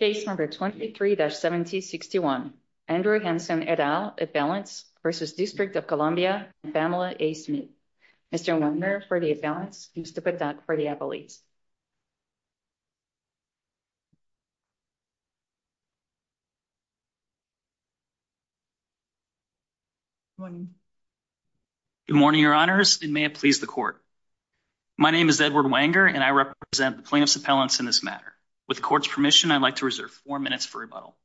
Page number 23-1761. Andrew Hanson et al. Appellants v. District of Columbia and Pamela A. Smith. Mr. Wanger for the appellants and Mr. Patak for the appellees. Good morning, your honors. It may please the court. My name is Edward Wanger and I represent the plaintiffs' appellants in this matter. With the court's permission, I'd like to reserve four minutes for rebuttal.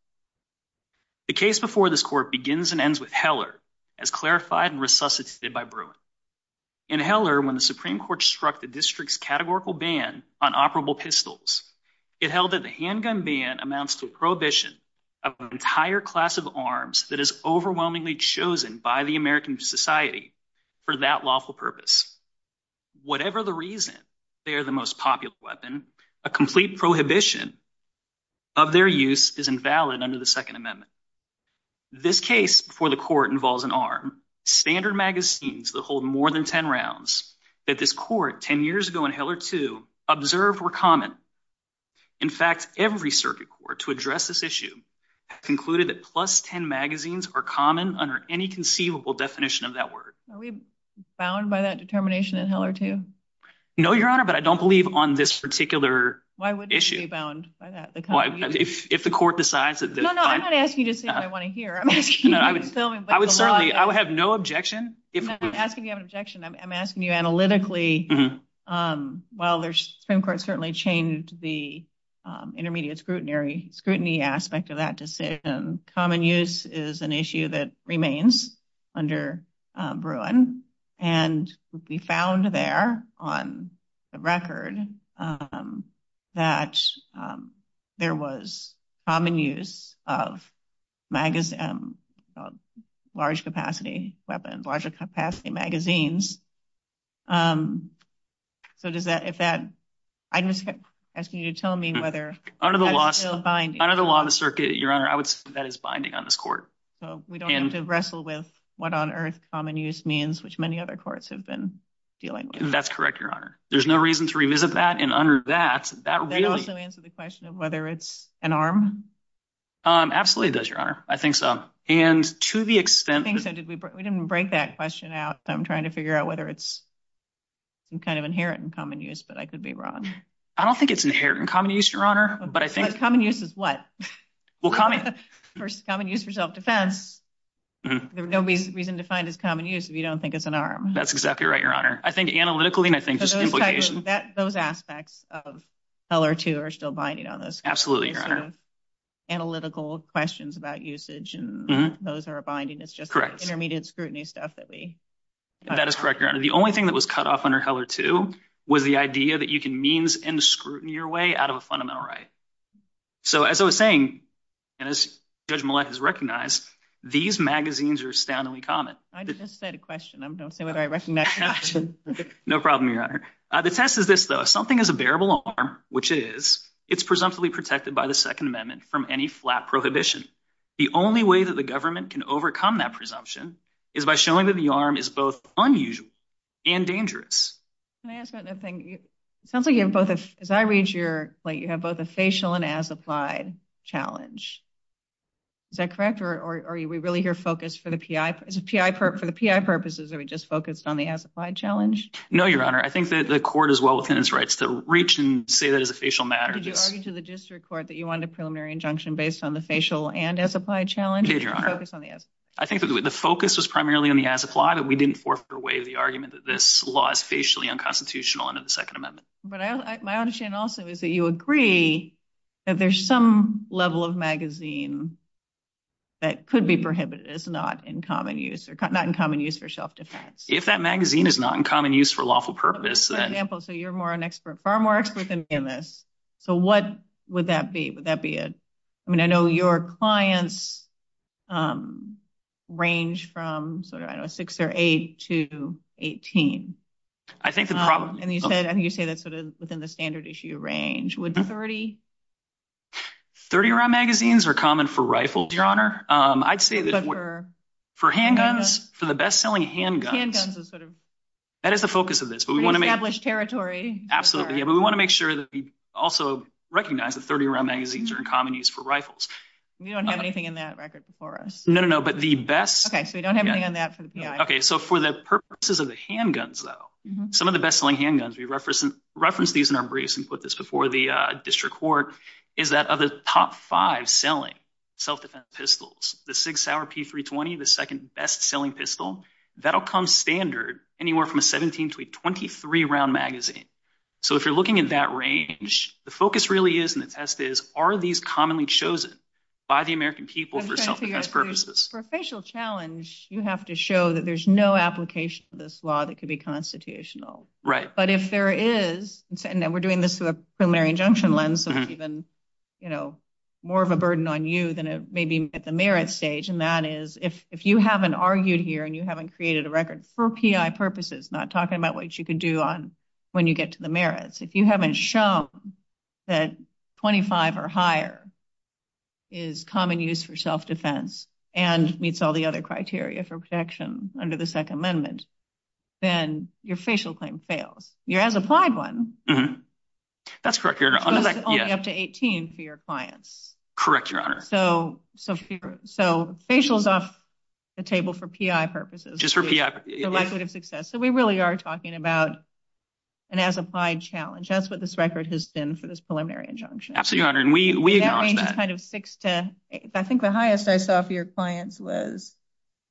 The case before this court begins and ends with Heller as clarified and resuscitated by Broome. In Heller, when the Supreme Court struck the district's categorical ban on operable pistols, it held that the handgun ban amounts to a prohibition of an entire class of arms that is overwhelmingly chosen by the American society for that lawful purpose. Whatever the reason they are the most popular weapon, a complete prohibition of their use is invalid under the Second Amendment. This case before the court involves an arm. Standard magazines that hold more than ten rounds that this court ten years ago in Heller, too, observed were common. In fact, every circuit court to address this issue concluded that plus ten magazines are common under any conceivable definition of that word. Are we bound by that determination in Heller, too? No, your honor, but I don't believe on this particular issue. Why wouldn't you be bound by that? If the court decides that… No, no, I'm not asking you to say what I want to hear. I would have no objection. I'm asking you analytically, while the Supreme Court certainly changed the intermediate scrutiny aspect of that decision, common use is an issue that remains under Bruin. And we found there on the record that there was common use of large-capacity weapons, large-capacity magazines. So does that… I'm just asking you to tell me whether… Under the law on the circuit, your honor, I would say that it's binding on this court. So we don't have to wrestle with what on earth common use means, which many other courts have been dealing with. That's correct, your honor. There's no reason to revisit that, and under that, that really… Does it also answer the question of whether it's an arm? Absolutely it does, your honor. I think so. And to the extent… I think so. We didn't break that question out. I'm trying to figure out whether it's kind of inherent in common use, but I could be wrong. I don't think it's inherent in common use, your honor, but I think… But common use is what? Well, common use is self-defense. There's no reason to find it's common use if you don't think it's an arm. That's exactly right, your honor. I think analytically, and I think just implication. Those aspects of Heller 2 are still binding on this. Absolutely, your honor. Analytical questions about usage, and those are binding. It's just intermediate scrutiny stuff that we… That is correct, your honor. The only thing that was cut off under Heller 2 was the idea that you can means and scrutiny your way out of a fundamental right. So as I was saying, and as Judge Milleth has recognized, these magazines are astoundingly common. I just said a question. I'm going to say whether I recognize the question. No problem, your honor. The test is this, though. If something is a bearable arm, which it is, it's presumptively protected by the Second Amendment from any flat prohibition. The only way that the government can overcome that presumption is by showing that the arm is both unusual and dangerous. Can I ask about another thing? It sounds like you have both, as I read your plate, you have both a facial and as-applied challenge. Is that correct, or are we really here focused for the PI purposes, or are we just focused on the as-applied challenge? No, your honor. I think that the court is well within its rights to reach and say that it's a facial matter. Did you argue to the district court that you wanted a preliminary injunction based on the facial and as-applied challenge? I did, your honor. Focus on the as-applied. I think that the focus was primarily on the as-applied, and we didn't forfeit away the argument that this law is facially unconstitutional under the Second Amendment. But my understanding also is that you agree that there's some level of magazine that could be prohibited. It's not in common use for self-defense. If that magazine is not in common use for lawful purpose, then— —it would range from 6 or 8 to 18. I think the problem— And you said it's within the standard issue range. Would 30— 30-round magazines are common for rifles, your honor. I'd say that for handguns, for the best-selling handguns— Handguns are sort of— That is the focus of this, but we want to make— —established territory. Absolutely, but we want to make sure that we also recognize that 30-round magazines are in common use for rifles. We don't have anything in that record for us. No, no, no, but the best— Okay, so we don't have anything in that for the PI. Okay, so for the purposes of the handguns, though, some of the best-selling handguns—we referenced these in our briefs and put this before the district court— is that of the top five selling self-defense pistols, the Sig Sauer P320, the second best-selling pistol, that'll come standard anywhere from a 17 to a 23-round magazine. So if you're looking at that range, the focus really is, and the test is, are these commonly chosen by the American people for self-defense purposes? For a facial challenge, you have to show that there's no application for this law that could be constitutional. Right. But if there is—and we're doing this through a preliminary injunction lens, so it's even, you know, more of a burden on you than it may be at the merit stage. My suggestion to that is, if you haven't argued here and you haven't created a record for PI purposes, not talking about what you can do when you get to the merits, if you haven't shown that 25 or higher is common use for self-defense and meets all the other criteria for protection under the Second Amendment, then your facial claim fails. You have the applied one. That's correct, Your Honor. But it's only up to 18 for your clients. Correct, Your Honor. So facial is off the table for PI purposes. Just for PI. The likelihood of success. So we really are talking about an as-applied challenge. That's what this record has been for this preliminary injunction. Absolutely, Your Honor. And we acknowledge that. That range is kind of 6 to 8. I think the highest I saw for your clients was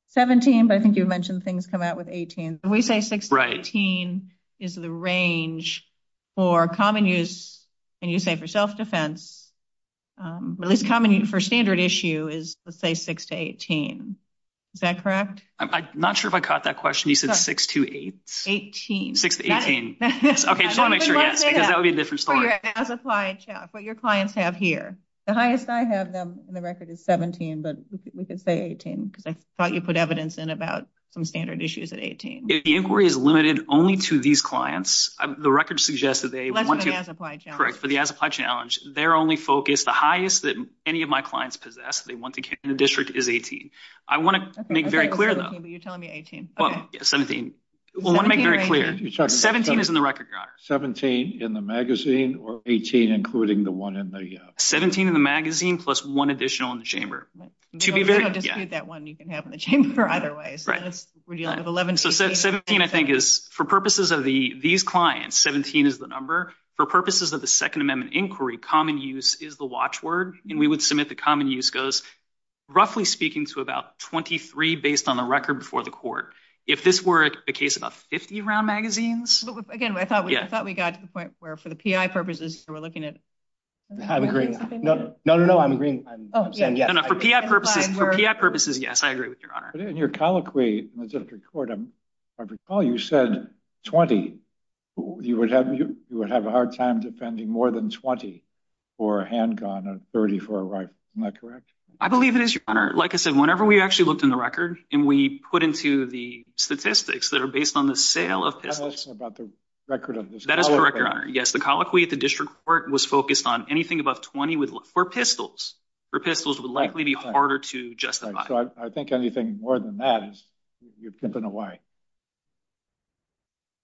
17, but I think you mentioned things come out with 18. When we say 6 to 18 is the range for common use, and you say for self-defense, at least common use for standard issue is, let's say, 6 to 18. Is that correct? I'm not sure if I caught that question. You said 6 to 8? 18. 6 to 18. Okay, so I'm not sure yet, because that would be a different story. As-applied challenge. What your clients have here. The highest I have them in the record is 17, but we could say 18, because I thought you put evidence in about some standard issues at 18. If the inquiry is limited only to these clients, the record suggests that they want to- Less than the as-applied challenge. Correct. For the as-applied challenge, their only focus, the highest that any of my clients possess, they want to get in the district, is 18. I want to make very clear, though- You're telling me 18. Well, yeah, 17. We want to make very clear. 17 is in the record, Your Honor. 17 in the magazine, or 18 including the one in the- 17 in the magazine, plus one additional in the chamber. That one you can have in the chamber otherwise. Right. We're dealing with 11- So 17, I think, is, for purposes of these clients, 17 is the number. For purposes of the Second Amendment inquiry, common use is the watchword, and we would submit the common use goes, roughly speaking, to about 23 based on the record before the court. If this were a case of 50 round magazines- Again, I thought we got to the point where, for the PI purposes, we're looking at- I'm agreeing. No, no, no, I'm agreeing. For PI purposes, yes, I agree with you, Your Honor. But in your colloquy in the district court, I recall you said 20. You would have a hard time defending more than 20 for a handgun and 30 for a rifle. Isn't that correct? I believe it is, Your Honor. Like I said, whenever we actually looked in the record and we put into the statistics that are based on the sale of pistols- That's also about the record of the- That is correct, Your Honor. Yes, the colloquy at the district court was focused on anything above 20 for pistols. For pistols, it would likely be harder to justify. So I think anything more than that, you're pimping away.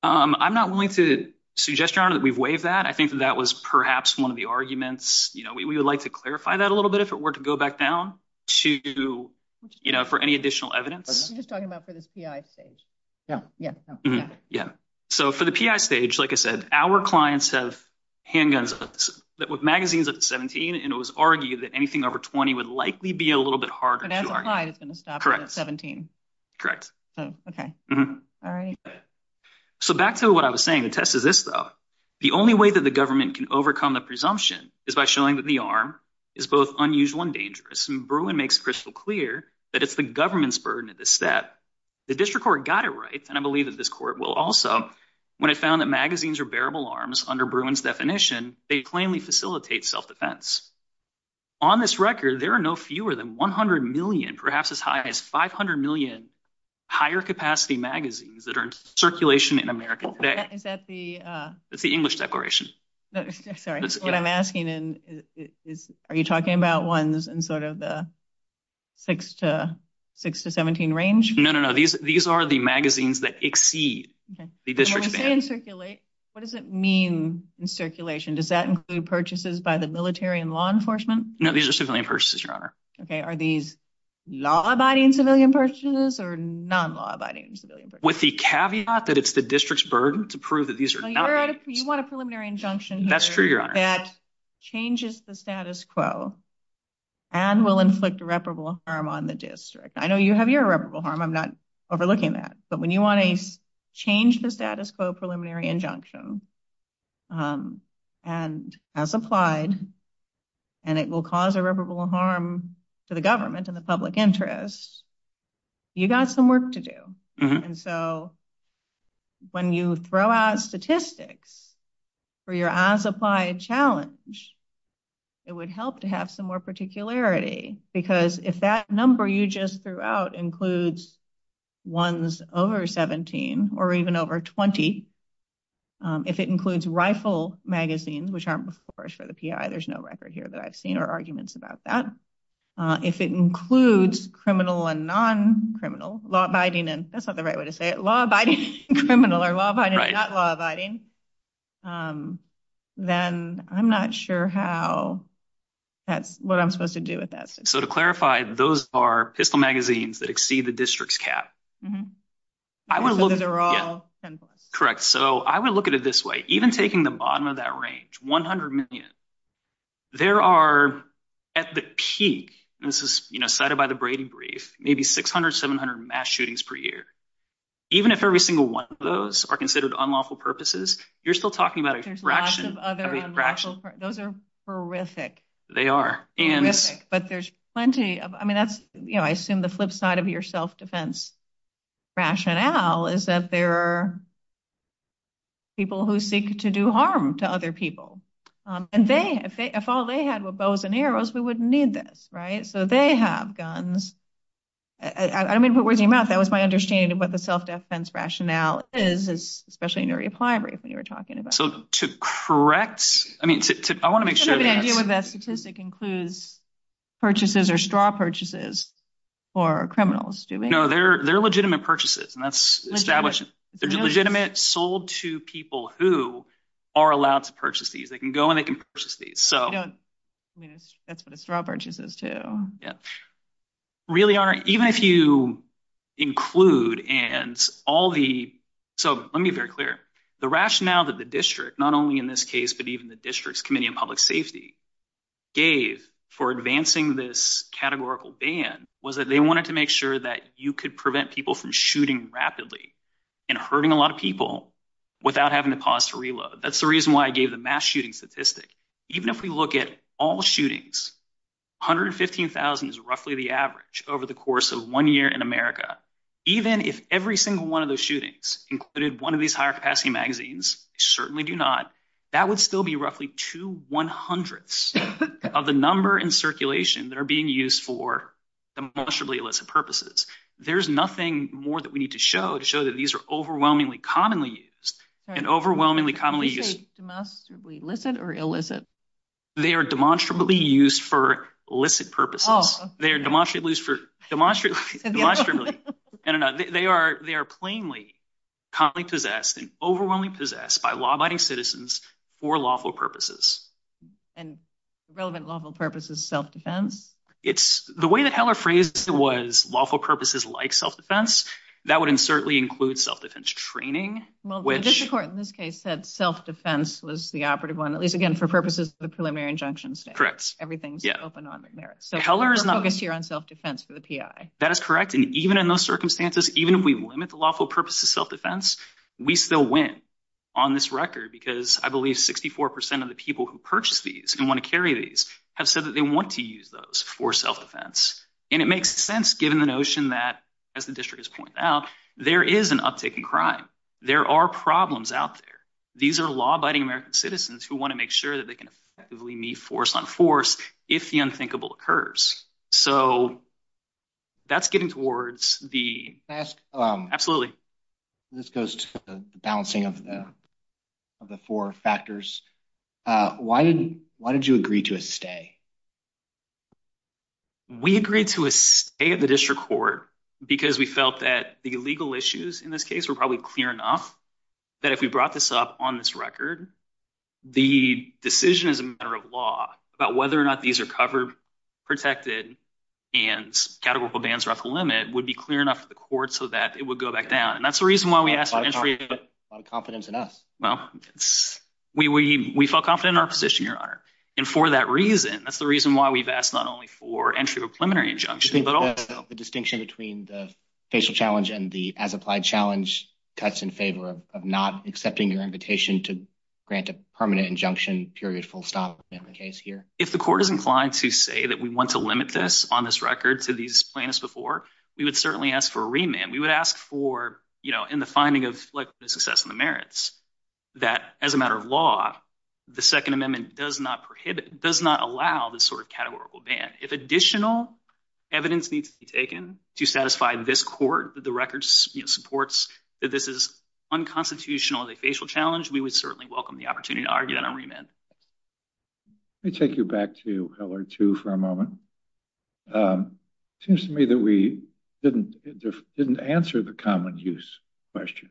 I'm not willing to suggest, Your Honor, that we waive that. I think that that was perhaps one of the arguments. We would like to clarify that a little bit if it were to go back down for any additional evidence. I'm just talking about for the PI stage. Yeah. So for the PI stage, like I said, our clients have handguns with magazines up to 17, and it was argued that anything over 20 would likely be a little bit harder to argue. But as applied, it's going to stop at 17. Correct. Okay. All right. So back to what I was saying. The test is this, though. The only way that the government can overcome the presumption is by showing that the arm is both unusual and dangerous. And Bruin makes crystal clear that it's the government's burden at this step. The district court got it right, and I believe that this court will also, when it found that magazines are bearable arms under Bruin's definition, they plainly facilitate self-defense. On this record, there are no fewer than 100 million, perhaps as high as 500 million, higher capacity magazines that are in circulation in America today. Is that the – That's the English declaration. Sorry. What I'm asking is, are you talking about ones in sort of the 6 to 17 range? No, no, no. These are the magazines that exceed the district's – And if they incirculate, what does it mean, incirculation? Does that include purchases by the military and law enforcement? No, these are civilian purchases, Your Honor. Okay. Are these law-abiding civilian purchases or non-law-abiding civilian purchases? With the caveat that it's the district's burden to prove that these are not – You want a preliminary injunction – That's true, Your Honor. That changes the status quo and will inflict reparable harm on the district. I know you have your reparable harm. I'm not overlooking that. But when you want to change the status quo preliminary injunction, and as applied, and it will cause irreparable harm to the government and the public interest, you've got some work to do. And so when you throw out statistics for your as-applied challenge, it would help to have some more particularity, because if that number you just threw out includes ones over 17 or even over 20, if it includes rifle magazines, which aren't reforged for the PI – there's no record here that I've seen or arguments about that – if it includes criminal and non-criminal, law-abiding and – that's not the right way to say it – law-abiding and criminal, or law-abiding and not law-abiding, then I'm not sure how that's what I'm supposed to do with that. So to clarify, those are pistol magazines that exceed the district's cap. Mm-hmm. I would look – From a literal standpoint. Correct. So I would look at it this way. Even taking the bottom of that range, 100 million, there are, at the peak – and this is cited by the Brady Brief – maybe 600, 700 mass shootings per year. Even if every single one of those are considered unlawful purposes, you're still talking about a fraction of a fraction – There's lots of other unlawful – those are horrific. They are. Horrific, but there's plenty of – I assume the flip side of your self-defense rationale is that there are people who seek to do harm to other people. And if all they had were bows and arrows, we wouldn't need this, right? So they have guns. I'm going to put words in your mouth. That was my understanding of what the self-defense rationale is, especially in your reply brief that you were talking about. So to correct – I mean, I want to make sure – I have an idea whether that statistic includes purchases or straw purchases for criminals. No, they're legitimate purchases, and that's established. They're legitimate, sold to people who are allowed to purchase these. They can go, and they can purchase these. That's what a straw purchase is, too. Really are. Even if you include and all the – so let me be very clear. The rationale that the district – not only in this case, but even the District's Committee on Public Safety gave for advancing this categorical ban was that they wanted to make sure that you could prevent people from shooting rapidly and hurting a lot of people without having to pause to reload. That's the reason why I gave the mass shooting statistic. Even if we look at all shootings, 115,000 is roughly the average over the course of one year in America. Even if every single one of those shootings included one of these higher-capacity magazines – certainly do not – that would still be roughly two one-hundredths of the number in circulation that are being used for demonstrably illicit purposes. There's nothing more that we need to show to show that these are overwhelmingly commonly used and overwhelmingly commonly used. Do you say demonstrably illicit or illicit? They are demonstrably used for illicit purposes. Oh. They are demonstrably used for – I don't know. They are plainly commonly possessed and overwhelmingly possessed by law-abiding citizens for lawful purposes. And relevant lawful purposes, self-defense? The way that Heller phrased it was lawful purposes like self-defense. That would certainly include self-defense training, which – Well, the district court in this case said self-defense was the operative one, at least, again, for purposes of the preliminary injunction statement. Correct. Everything's open on there. So Heller is focused here on self-defense for the PI. That is correct. And even in those circumstances, even if we limit the lawful purposes to self-defense, we still win on this record because I believe 64% of the people who purchased these and want to carry these have said that they want to use those for self-defense. And it makes sense given the notion that, as the district has pointed out, there is an uptick in crime. There are problems out there. These are law-abiding American citizens who want to make sure that they can effectively meet force on force if the unthinkable occurs. So that's getting towards the – This goes to the balancing of the four factors. Why did you agree to a stay? We agreed to a stay at the district court because we felt that the legal issues in this case were probably clear enough that if we brought this up on this record, the decision as a matter of law about whether or not these are covered, protected, and categorical bans were at the limit would be clear enough to the court so that it would go back down. And that's the reason why we asked for entry. A lot of confidence in us. Well, we felt confident in our position, Your Honor. And for that reason, that's the reason why we've asked not only for entry of a preliminary injunction. The distinction between the facial challenge and the as-applied challenge cuts in favor of not accepting your invitation to grant a permanent injunction period full stop in the case here. If the court is inclined to say that we want to limit this on this record to these plans before, we would certainly ask for a remand. We would ask for, you know, in the finding of the success and the merits, that as a matter of law, the Second Amendment does not prohibit, does not allow this sort of categorical ban. If additional evidence needs to be taken to satisfy this court, that the record supports that this is unconstitutional as a facial challenge, we would certainly welcome the opportunity to argue on a remand. Let me take you back to LR2 for a moment. It seems to me that we didn't answer the common use question.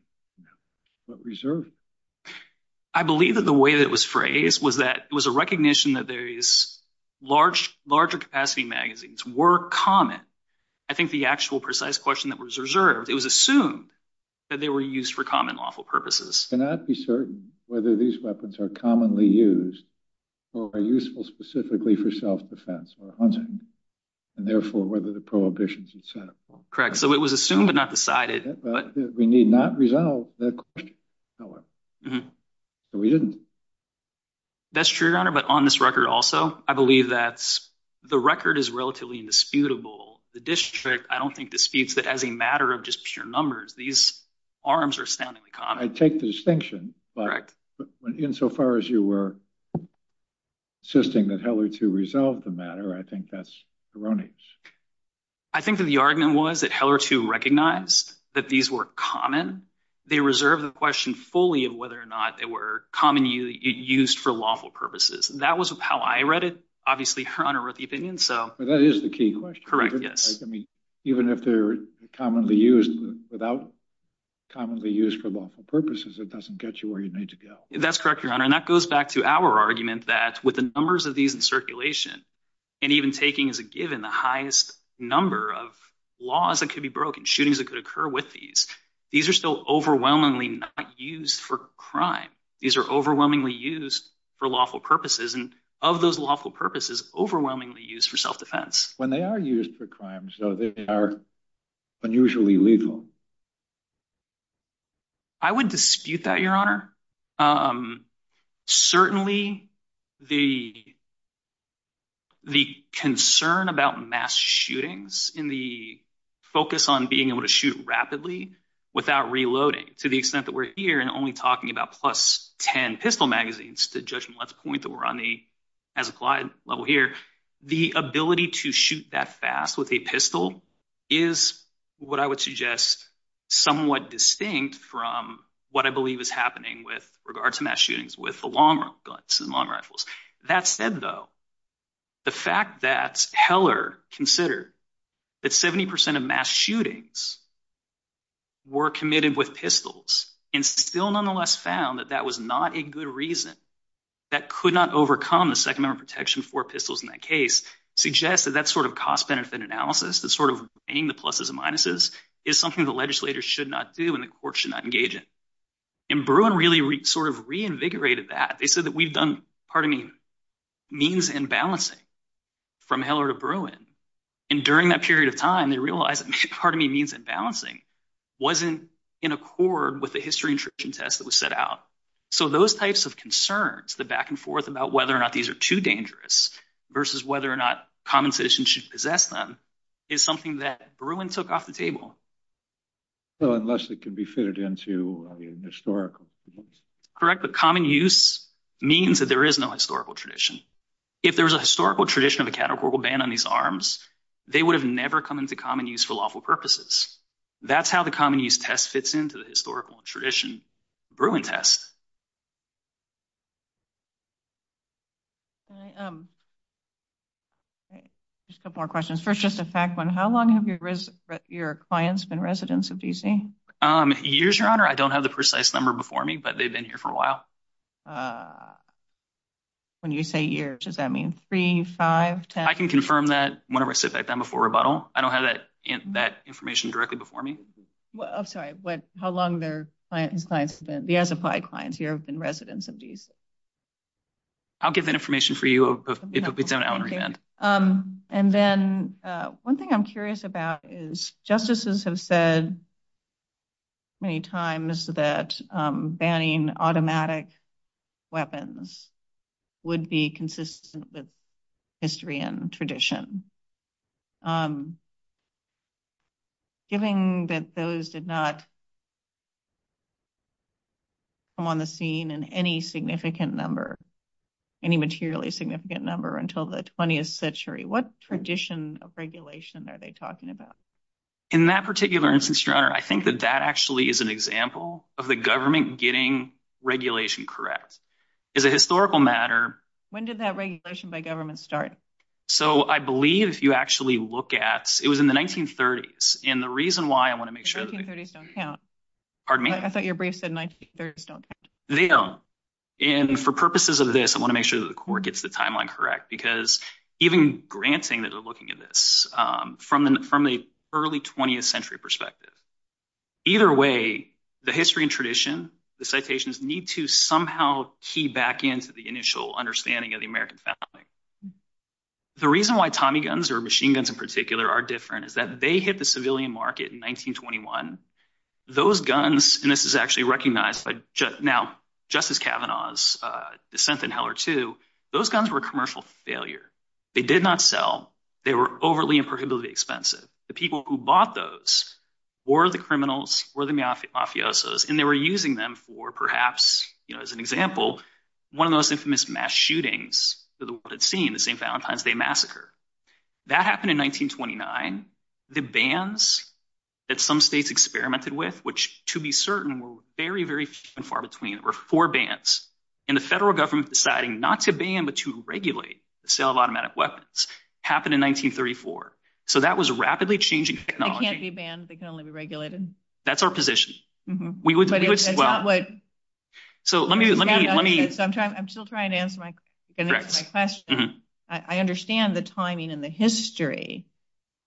What reserved? I believe that the way that it was phrased was that it was a recognition that there is larger capacity magazines were common. I think the actual precise question that was reserved, it was assumed that they were used for common lawful purposes. We cannot be certain whether these weapons are commonly used or are useful specifically for self-defense or hunting, and therefore whether the prohibitions itself. Correct. So it was assumed but not decided. We need not resolve that question. So we didn't. That's true, Your Honor, but on this record also, I believe that the record is relatively indisputable. The district, I don't think, disputes that as a matter of just pure numbers, these arms are astoundingly common. I take the distinction, but insofar as you were insisting that LR2 resolved the matter, I think that's erroneous. I think that the argument was that LR2 recognized that these were common. They reserved the question fully of whether or not they were commonly used for lawful purposes. That was how I read it, obviously, Your Honor, what do you think? That is the key question. Even if they're commonly used, without commonly used for lawful purposes, it doesn't get you where you need to go. That's correct, Your Honor, and that goes back to our argument that with the numbers of these in circulation, and even taking as a given the highest number of laws that could be broken, shootings that could occur with these, these are still overwhelmingly not used for crime. These are overwhelmingly used for lawful purposes, and of those lawful purposes, overwhelmingly used for self-defense. When they are used for crime, though, they are unusually legal. I wouldn't dispute that, Your Honor. Certainly, the concern about mass shootings and the focus on being able to shoot rapidly without reloading, to the extent that we're here and only talking about plus 10 pistol magazines, to judge them at the point that we're on the as-applied level here, the ability to shoot that fast with a pistol is what I would suggest somewhat distinct from what I believe is happening with regards to mass shootings with the long-rifles. That said, though, the fact that Heller considered that 70% of mass shootings were committed with pistols and still nonetheless found that that was not a good reason that could not overcome the Second Amendment protection for pistols in that case suggests that that sort of cost-benefit analysis, that sort of being the pluses and minuses, is something the legislators should not do and the court should not engage in. And Bruin really sort of reinvigorated that. They said that we've done, pardon me, means and balancing from Heller to Bruin. And during that period of time, they realized that, pardon me, means and balancing wasn't in accord with the history and tradition test that was set out. So those types of concerns, the back and forth about whether or not these are too dangerous versus whether or not common citizens should possess them is something that Bruin took off the table. Well, unless it can be fitted into the historical. Correct, but common use means that there is no historical tradition. If there was a historical tradition of a categorical ban on these arms, they would have never come into common use for lawful purposes. That's how the common use test fits into the historical tradition. Bruin test. Just a couple more questions. First, just a fact one. How long have your clients been residents of D.C.? Years, Your Honor. I don't have the precise number before me, but they've been here for a while. When you say years, does that mean three, five, ten? I can confirm that whenever I sit back down before rebuttal. I don't have that information directly before me. I'm sorry. How long have the SFI clients here been residents of D.C.? I'll give that information for you. One thing I'm curious about is justices have said many times that banning automatic weapons would be consistent with history and tradition. Given that those did not come on the scene in any significant number, any materially significant number until the 20th century, what tradition of regulation are they talking about? In that particular instance, Your Honor, I think that that actually is an example of the government getting regulation correct. As a historical matter... When did that regulation by government start? I believe you actually look at – it was in the 1930s, and the reason why I want to make sure... The 1930s don't count. Pardon me? I thought your brief said 1930s don't count. They don't, and for purposes of this, I want to make sure that the court gets the timeline correct because even granting that they're looking at this, from the early 20th century perspective, either way, the history and tradition, the citations, need to somehow key back into the initial understanding of the American family. The reason why Tommy guns, or machine guns in particular, are different is that they hit the civilian market in 1921. Those guns, and this is actually recognized by Justice Kavanaugh's dissent in Heller 2, those guns were a commercial failure. They did not sell. They were overly and prohibitively expensive. The people who bought those were the criminals, were the mafiosos, and they were using them for perhaps, as an example, one of the most infamous mass shootings the world had seen, the St. Valentine's Day massacre. That happened in 1929. The bans that some states experimented with, which to be certain were very, very far between, were four bans, and the federal government deciding not to ban but to regulate the sale of automatic weapons happened in 1934. So that was rapidly changing technology. They can't be banned. They can only be regulated. That's our position. I'm still trying to answer my question. I understand the timing and the history,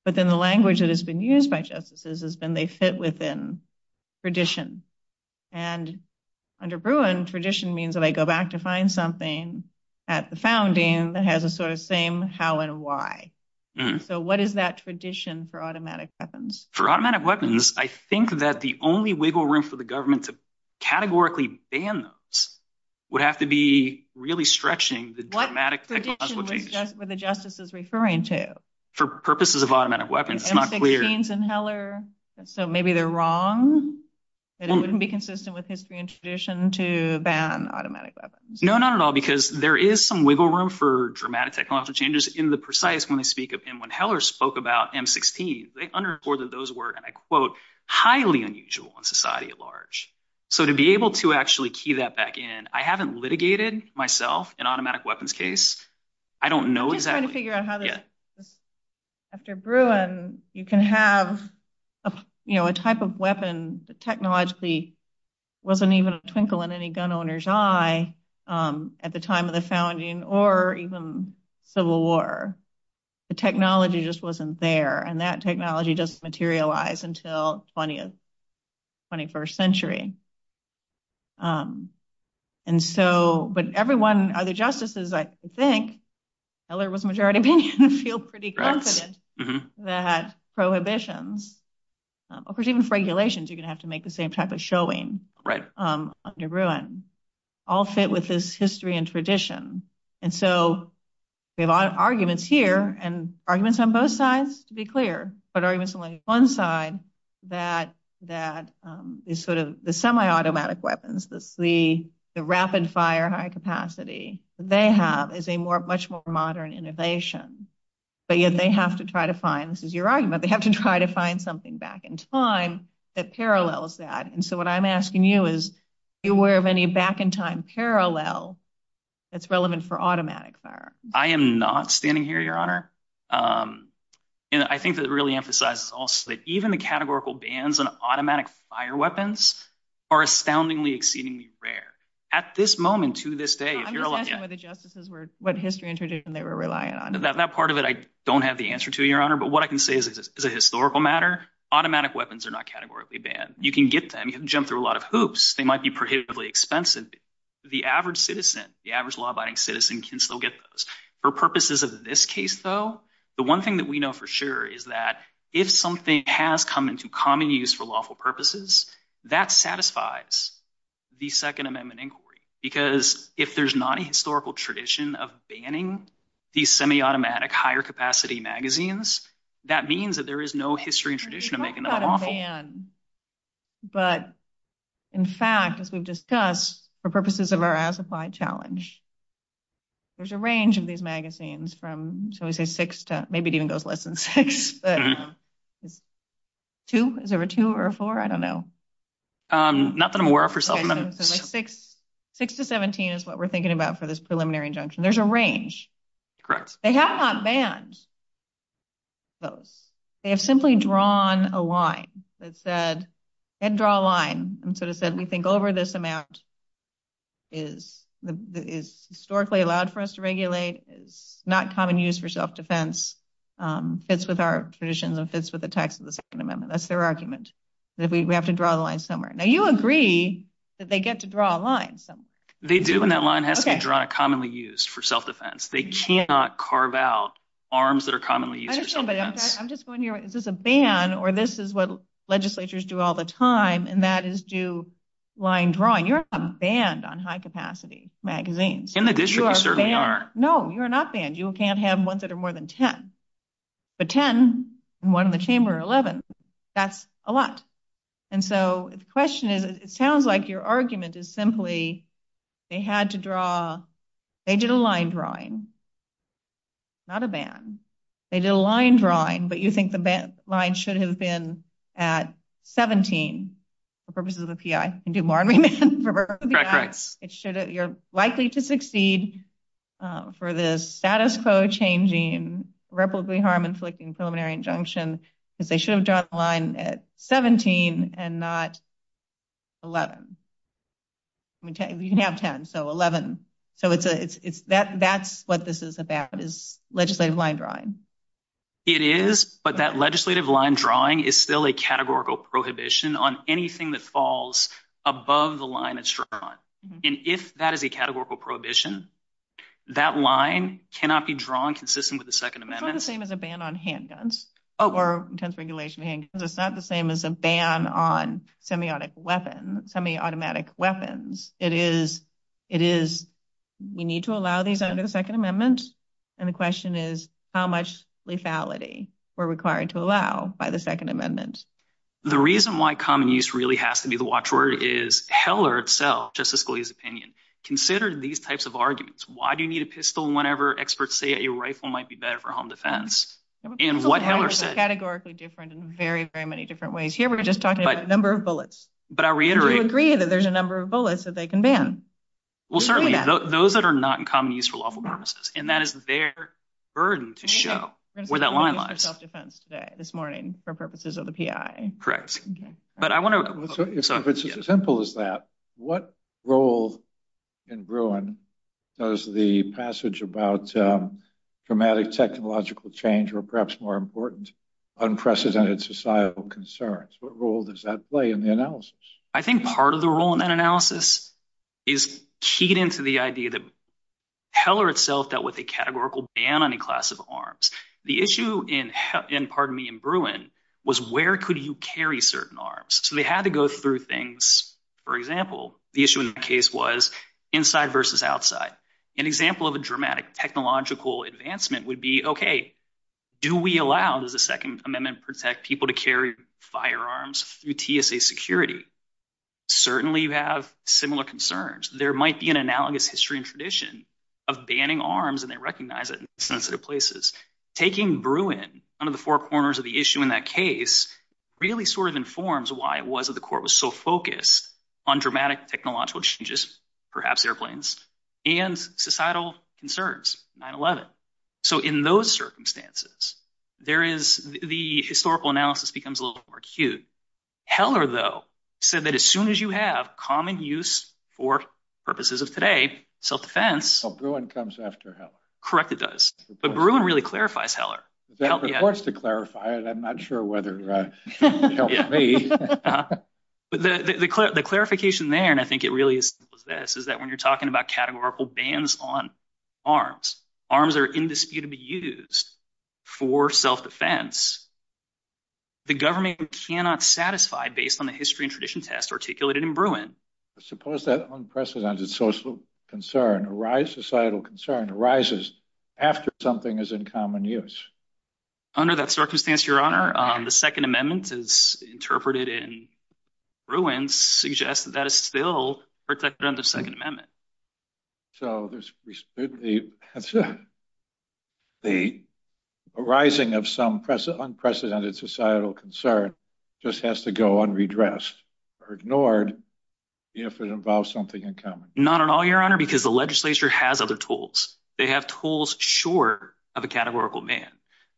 but then the language that has been used by justices has been they fit within tradition. Under Bruin, tradition means that I go back to find something at the founding that has the sort of same how and why. So what is that tradition for automatic weapons? For automatic weapons, I think that the only wiggle room for the government to categorically ban those would have to be really stretching the dramatic technological change. What tradition were the justices referring to? For purposes of automatic weapons, I'm not clear. M-16s and Heller, so maybe they're wrong? It wouldn't be consistent with history and tradition to ban automatic weapons. No, not at all, because there is some wiggle room for dramatic technological changes in the precise when they speak of them. I understand that those were, and I quote, highly unusual in society at large. So to be able to actually key that back in, I haven't litigated myself in automatic weapons case. I don't know exactly. I'm just trying to figure out how to. After Bruin, you can have a type of weapon that technologically wasn't even a twinkle in any gun owner's eye at the time of the founding or even Civil War. The technology just wasn't there, and that technology just materialized until 20th, 21st century. But everyone, the justices, I think, Heller was the majority opinion, feel pretty confident that prohibitions, or even regulations, you're going to have to make the same type of showing under Bruin, all fit with this history and tradition. And so we have arguments here, and arguments on both sides, to be clear. But arguments on one side that is sort of the semi-automatic weapons, the rapid-fire high-capacity, they have is a much more modern innovation. But yet they have to try to find, this is your argument, they have to try to find something back in time that parallels that. And so what I'm asking you is, are you aware of any back-in-time parallel that's relevant for automatic fire? I am not standing here, Your Honor. And I think that it really emphasizes also that even the categorical bans on automatic fire weapons are astoundingly, exceedingly rare. At this moment, to this day, if you're a lawyer... I'm just asking what the justices were, what history and tradition they were relying on. That part of it I don't have the answer to, Your Honor. But what I can say is, as a historical matter, automatic weapons are not categorically banned. You can get them, you can jump through a lot of hoops. They might be prohibitively expensive. The average citizen, the average law-abiding citizen can still get those. For purposes of this case, though, the one thing that we know for sure is that if something has come into common use for lawful purposes, that satisfies the Second Amendment inquiry. Because if there's not a historical tradition of banning these semi-automatic, higher-capacity magazines, that means that there is no history and tradition of making them lawful. But, in fact, as we've discussed, for purposes of our as-applied challenge, there's a range of these magazines from, shall we say, six to... Maybe it even goes less than six. Two? Is there a two or a four? I don't know. Not that I'm aware of, Your Honor. Six to 17 is what we're thinking about for this preliminary injunction. There's a range. Correct. They have not banned those. They have simply drawn a line that said... They didn't draw a line and sort of said, we think over this amount is historically allowed for us to regulate, is not common use for self-defense, fits with our tradition, and fits with the text of the Second Amendment. That's their argument, that we have to draw the line somewhere. Now, you agree that they get to draw a line. They do, and that line has to be commonly used for self-defense. They cannot carve out arms that are commonly used for self-defense. I don't know, but I'm just going here. Is this a ban, or this is what legislatures do all the time, and that is do line drawing. You're not banned on high-capacity magazines. In the district, we certainly are. No, you're not banned. You can't have ones that are more than 10. But 10 and one in the chamber are 11. That's a lot. And so the question is, it sounds like your argument is simply they had to draw... They did a line drawing, not a ban. They did a line drawing, but you think the line should have been at 17 for purposes of the PI. You can do more than that. You're likely to succeed for the status quo changing, replicably harm inflicting preliminary injunction, if they should have drawn the line at 17 and not 11. You can have 10, so 11. That's what this is about, is legislative line drawing. It is, but that legislative line drawing is still a categorical prohibition on anything that falls above the line it's drawn. And if that is a categorical prohibition, that line cannot be drawn consistent with the Second Amendment. It's not the same as a ban on handguns or intense regulation of handguns. It's not the same as a ban on semiotic weapons, semi-automatic weapons. It is, we need to allow these under the Second Amendment, and the question is how much lethality we're required to allow by the Second Amendment. The reason why common use really has to be the watchword is Heller itself, Justice Scalia's opinion, considered these types of arguments. Why do you need a pistol whenever experts say a rifle might be better for home defense? And what Heller said- Categorically different in very, very many different ways. Here we're just talking about the number of bullets. But I reiterate- We agree that there's a number of bullets that they can ban. Well, certainly those that are not in common use for lawful purposes, and that is their burden to show where that line lies. Self-defense today, this morning, for purposes of the PI. Correct. But I want to- It's as simple as that. What role in Bruin does the passage about dramatic technological change or perhaps more important, unprecedented societal concerns, what role does that play in the analysis? I think part of the role in that analysis is keyed into the idea that Heller itself dealt with a categorical ban on a class of arms. The issue in, pardon me, in Bruin, was where could you carry certain arms? So they had to go through things. For example, the issue in my case was inside versus outside. An example of a dramatic technological advancement would be, okay, do we allow the Second Amendment to protect people to carry firearms through TSA security? We certainly have similar concerns. There might be an analogous history and tradition of banning arms, and they recognize it in sensitive places. Taking Bruin, one of the four corners of the issue in that case, really sort of informs why it was that the court was so focused on dramatic technological changes, perhaps airplanes, and societal concerns, 9-11. So in those circumstances, the historical analysis becomes a little more acute. Heller, though, said that as soon as you have common use for purposes of today, self-defense... So Bruin comes after Heller. Correct, it does. But Bruin really clarifies Heller. It's supposed to clarify it. I'm not sure whether it helps me. The clarification there, and I think it really is this, is that when you're talking about categorical bans on arms, arms that are in dispute to be used for self-defense, the government cannot satisfy, based on the history and tradition test articulated in Bruin. Suppose that unprecedented social concern, societal concern, arises after something is in common use. Under that circumstance, Your Honor, the Second Amendment, as interpreted in Bruin, suggests that that is still protected under the Second Amendment. So the arising of some unprecedented societal concern just has to go unredressed or ignored if it involves something in common. Not at all, Your Honor, because the legislature has other tools. They have tools short of a categorical ban.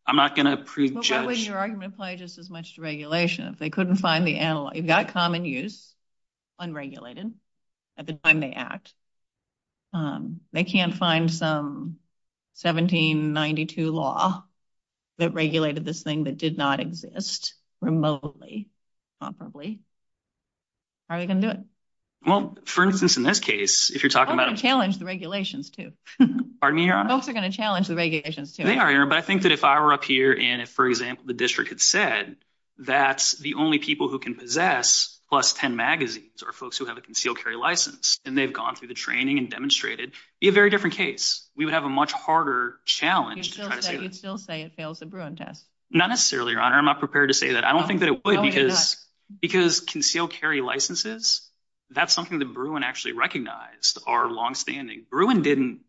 I'm not going to prejudge. What would your argument apply just as much to regulation if they couldn't find the analog? You've got common use, unregulated, at the time they act. They can't find some 1792 law that regulated this thing that did not exist remotely properly. How are they going to do it? Well, for instance, in this case, if you're talking about... They're going to challenge the regulations, too. Pardon me, Your Honor? Both are going to challenge the regulations, too. They are, Your Honor, but I think that if I were up here and, for example, the district had said that the only people who can possess plus 10 magazines are folks who have a concealed carry license, and they've gone through the training and demonstrated, it would be a very different case. We would have a much harder challenge if you still say it fails the Bruin test. Not necessarily, Your Honor. I'm not prepared to say that. I don't think that it would because concealed carry licenses, that's something that Bruin actually recognized are longstanding. Bruin didn't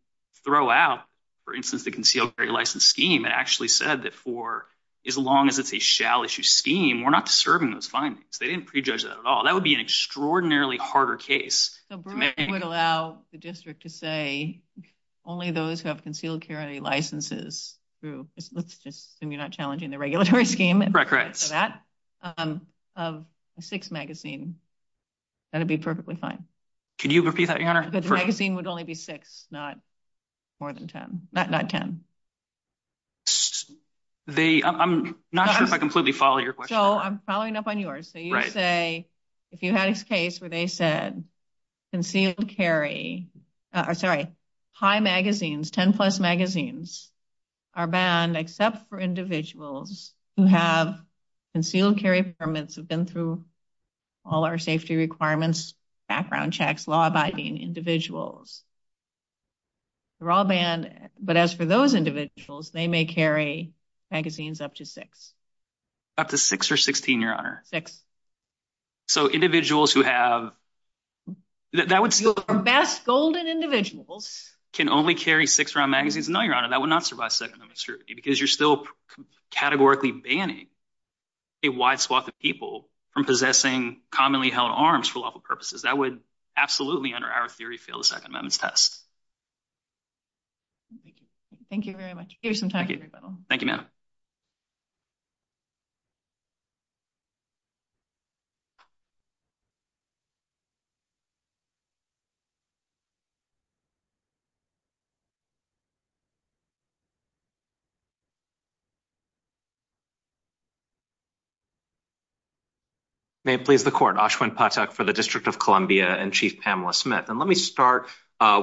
throw out, for instance, the concealed carry license scheme. It actually said that for as long as it's a shall issue scheme, we're not disturbing those findings. They didn't prejudge that at all. That would be an extraordinarily harder case. So Bruin would allow the district to say only those who have concealed carry licenses through, let's just assume you're not challenging the regulatory scheme. Correct, correct. For that, of six magazines, that would be perfectly fine. Could you repeat that, Your Honor? Because the magazine would only be six, not more than 10, not 10. I'm not sure if I completely follow your question. Joe, I'm following up on yours. So you would say, if you had a case where they said concealed carry, high magazines, 10-plus magazines, are banned except for individuals who have concealed carry permits, who've been through all our safety requirements, background checks, law-abiding individuals. They're all banned, but as for those individuals, they may carry magazines up to six. Up to six or 16, Your Honor. Six. So individuals who have... The best golden individuals can only carry six-round magazines? No, Your Honor, that would not survive Second Amendment security because you're still categorically banning a wide swath of people from possessing commonly held arms for lawful purposes. That would absolutely, under our theory, Thank you very much. Thank you. Thank you, ma'am. Thank you. Thank you. Thank you. May it please the court, Ashwin Pathak for the District of Columbia and Chief Pamela Smith. And let me start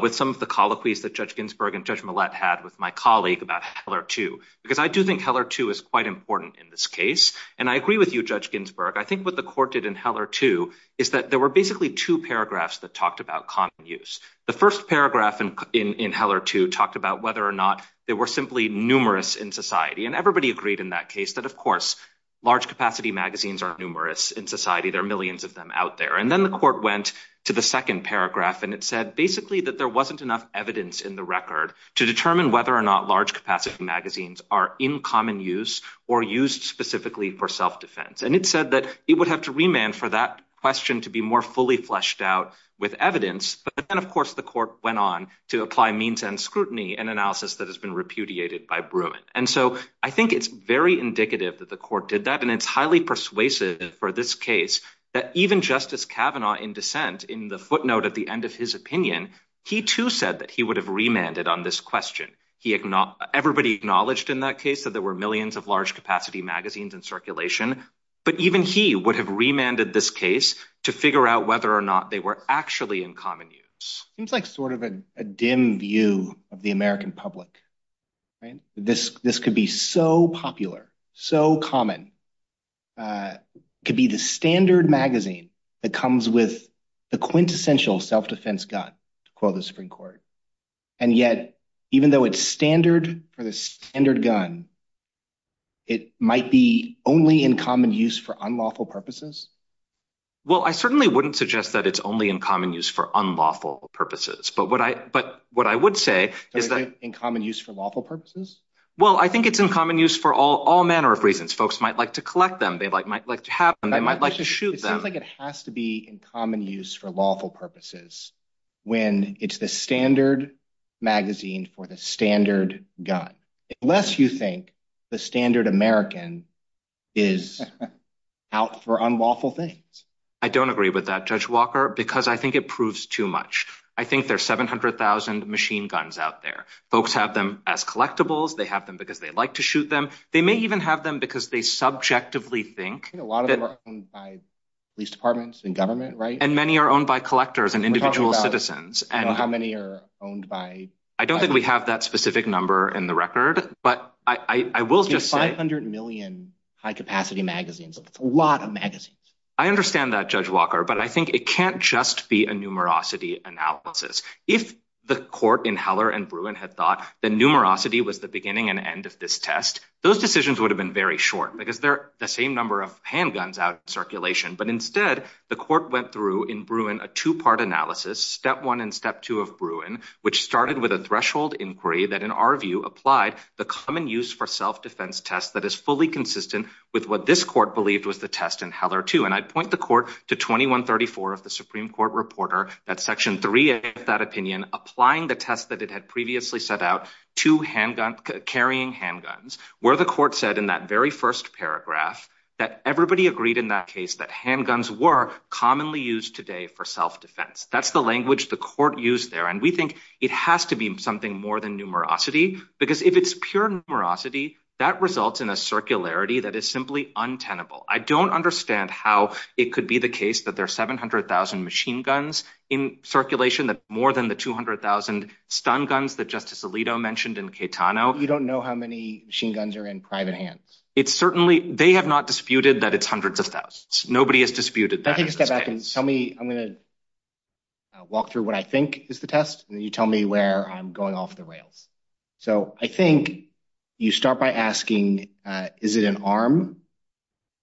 with some of the coloquies that Judge Ginsburg and Judge Millett had with my colleague about Heller 2. Because I do think Heller 2 is quite important in this case, and I agree with you, Judge Ginsburg. I think what the court did in Heller 2 is that there were basically two paragraphs that talked about common use. The first paragraph in Heller 2 talked about whether or not they were simply numerous in society. And everybody agreed in that case that, of course, large-capacity magazines are numerous in society. There are millions of them out there. And then the court went to the second paragraph, and it said basically that there wasn't enough evidence in the record to determine whether or not large-capacity magazines are in common use or used specifically for self-defense. And it said that he would have to remand for that question to be more fully fleshed out with evidence. But then, of course, the court went on to apply means and scrutiny, an analysis that has been repudiated by Bruin. And so I think it's very indicative that the court did that, and it's highly persuasive for this case that even Justice Kavanaugh, in dissent, in the footnote at the end of his opinion, he too said that he would have remanded on this question. Everybody acknowledged in that case that there were millions of large-capacity magazines in circulation but even he would have remanded this case to figure out whether or not they were actually in common use. It seems like sort of a dim view of the American public, right? This could be so popular, so common. It could be the standard magazine that comes with the quintessential self-defense gun, to quote the Supreme Court. And yet, even though it's standard for the standard gun, it might be only in common use for unlawful purposes? Well, I certainly wouldn't suggest that it's only in common use for unlawful purposes. But what I would say is that... In common use for lawful purposes? Well, I think it's in common use for all manner of reasons. Folks might like to collect them. They might like to have them. They might like to shoot them. It seems like it has to be in common use for lawful purposes when it's the standard magazine for the standard gun. Unless you think the standard American is out for unlawful things. I don't agree with that, Judge Walker, because I think it proves too much. I think there's 700,000 machine guns out there. Folks have them as collectibles. They have them because they like to shoot them. They may even have them because they subjectively think... A lot of them are owned by police departments and government, right? And many are owned by collectors and individual citizens. I don't know how many are owned by... I don't think we have that specific number in the record, but I will just say... 500 million high-capacity magazines. That's a lot of magazines. I understand that, Judge Walker, but I think it can't just be a numerosity analysis. If the court in Heller and Bruin had thought that numerosity was the beginning and end of this test, those decisions would have been very short because they're the same number of handguns out in circulation. But instead, the court went through in Bruin a two-part analysis, step one and step two of Bruin, which started with a threshold inquiry that in our view applied the common-use-for-self-defense test that is fully consistent with what this court believed was the test in Heller, too. And I point the court to 2134 of the Supreme Court reporter that Section 3 of that opinion applying the test that it had previously set out to carrying handguns where the court said in that very first paragraph that everybody agreed in that case that handguns were commonly used today for self-defense. That's the language the court used there, and we think it has to be something more than numerosity because if it's pure numerosity, that results in a circularity that is simply untenable. I don't understand how it could be the case that there are 700,000 machine guns in circulation that's more than the 200,000 stun guns that Justice Alito mentioned in Caetano. You don't know how many machine guns are in private hands. It's certainly... They have not disputed that it's hundreds of thousands. Nobody has disputed that. I can step back and tell me... I'm going to walk through what I think is the test, and then you tell me where I'm going off the rails. So I think you start by asking, is it an arm?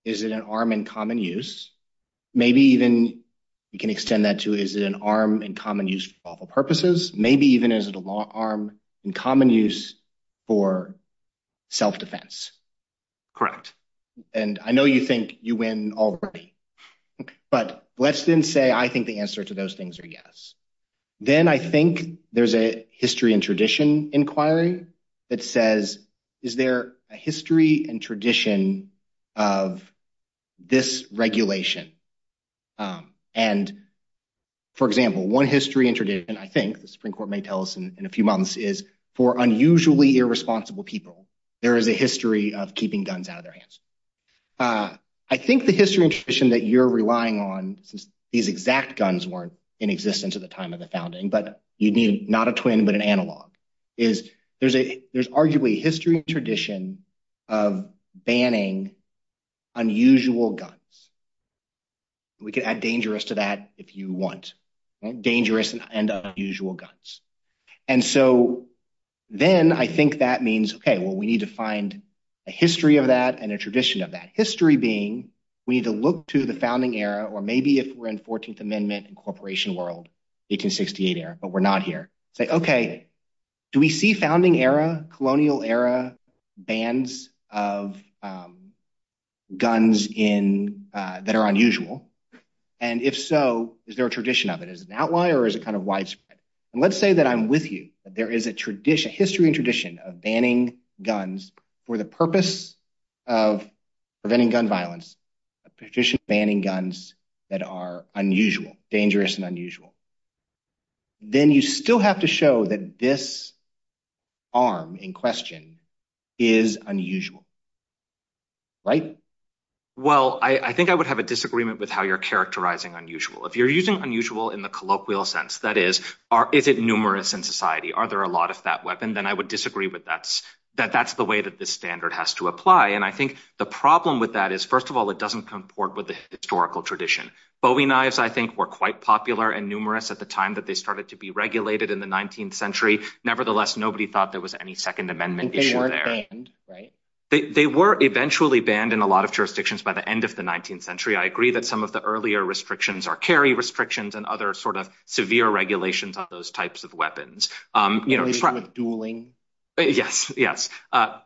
Is it an arm in common use? Maybe even you can extend that to, is it an arm in common use for all purposes? Maybe even is it an arm in common use for self-defense? Correct. And I know you think you win already, but let's then say I think the answer to those things are yes. Then I think there's a history and tradition inquiry that says, is there a history and tradition of this regulation? And for example, one history and tradition, I think the Supreme Court may tell us in a few months, is for unusually irresponsible people, there is a history of keeping guns out of their hands. I think the history and tradition that you're relying on, these exact guns weren't in existence at the time of the founding, but you'd need not a twin, but an analog. There's arguably a history and tradition of banning unusual guns. We could add dangerous to that if you want. Dangerous and unusual guns. And so then I think that means, okay, well, we need to find a history of that and a tradition of that. History being, we need to look to the founding era, or maybe if we're in 14th Amendment and corporation world, 1868 era, but we're not here. Say, okay, do we see founding era, colonial era, bans of guns that are unusual? And if so, is there a tradition of it? Is that why, or is it kind of widespread? And let's say that I'm with you. There is a tradition, history and tradition of banning guns for the purpose of preventing gun violence. A tradition of banning guns that are unusual, dangerous and unusual. Then you still have to show that this arm in question is unusual, right? Well, I think I would have a disagreement with how you're characterizing unusual. If you're using unusual in the colloquial sense, that is, if it's numerous in society, are there a lot of that weapon, then I would disagree with that, that that's the way that this standard has to apply. And I think the problem with that is, first of all, it doesn't comport with the historical tradition. Bowie knives, I think, were quite popular and numerous at the time that they started to be regulated in the 19th century. Nevertheless, nobody thought there was any Second Amendment issue there. They weren't banned, right? They were eventually banned in a lot of jurisdictions by the end of the 19th century. I agree that some of the earlier restrictions are carry restrictions and other sort of severe regulations of those types of weapons. You mean sort of dueling? Yes, yes.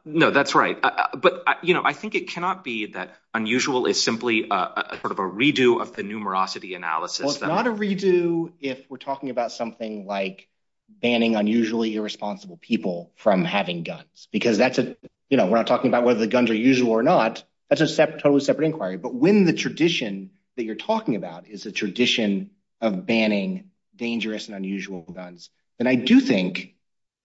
No, that's right. But, you know, I think it cannot be that unusual is simply sort of a redo of the numerosity analysis. Well, it's not a redo if we're talking about something like banning unusually irresponsible people from having guns because that's a, you know, we're not talking about whether the guns are usual or not. That's a totally separate inquiry. But when the tradition that you're talking about is a tradition of banning dangerous and unusual guns, then I do think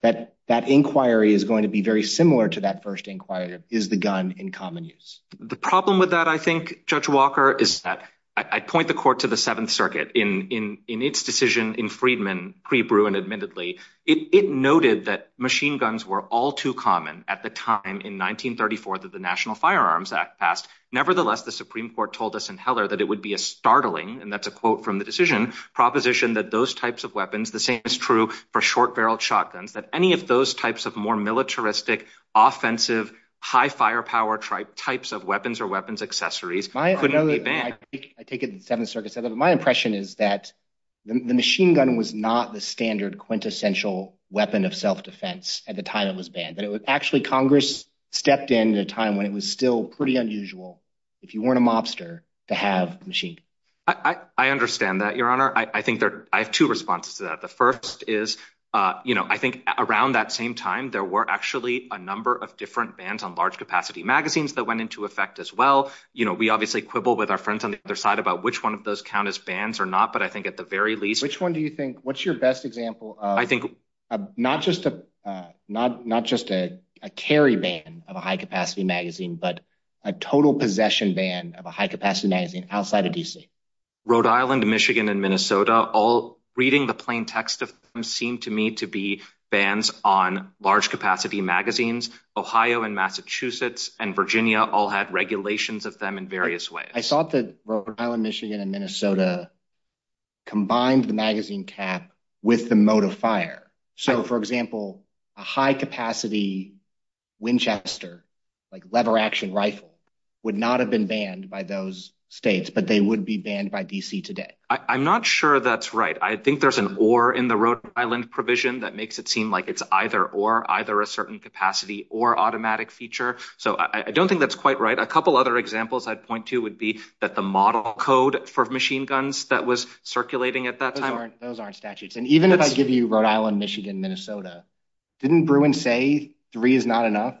that that inquiry is going to be very similar to that first inquiry is the gun in common use. The problem with that, I think, Judge Walker, is that I point the court to the Seventh Circuit in its decision in Friedman pre-Bruin admittedly. It noted that machine guns were all too common at the time in 1934 that the National Firearms Act passed. Nevertheless, the Supreme Court told us in Heller that it would be a startling and that's a quote from the decision proposition that those types of weapons, the same is true for short barreled shotguns, that any of those types of more militaristic, offensive, high firepower types of weapons or weapons accessories couldn't be banned. I take it the Seventh Circuit said that my impression is that the machine gun was not the standard quintessential weapon of self-defense at the time it was banned, but it was actually Congress stepped in at a time when it was still pretty unusual if you weren't a mobster to have a machine. I understand that, Your Honor. I think there are two responses to that. The first is, you know, I think around that same time there were actually a number of different bans on large capacity magazines that went into effect as well. You know, we obviously quibble with our friends on the other side about which one of those count as bans or not, but I think at the very least... Which one do you think, what's your best example of not just a carry ban of a high capacity magazine, but a total possession ban of a high capacity magazine outside of D.C.? Rhode Island, of them seem to me to be bans on large capacity magazines. Ohio and Massachusetts and Virginia are the only states that have bans on large capacity magazines. And I think that's because Virginia all had regulations of them in various ways. I saw that Rhode Island, Michigan, and Minnesota combined the magazine cap with the mode of fire. So, for example, a high capacity Winchester, like, lever action rifle, would not have been banned by those states, but they would be banned by D.C. today. I'm not sure that's right. in the Rhode Island provision that makes it seem like it's either or, either a certain capacity or automatic feature. So I don't think there's a ban on large capacity magazines outside of D.C. I think that's quite right. A couple other examples I'd point to would be that the model code for machine guns that was circulating at that time. Those aren't statutes. And even if I give you Rhode Island, Michigan, Minnesota, didn't Bruin say three is not enough?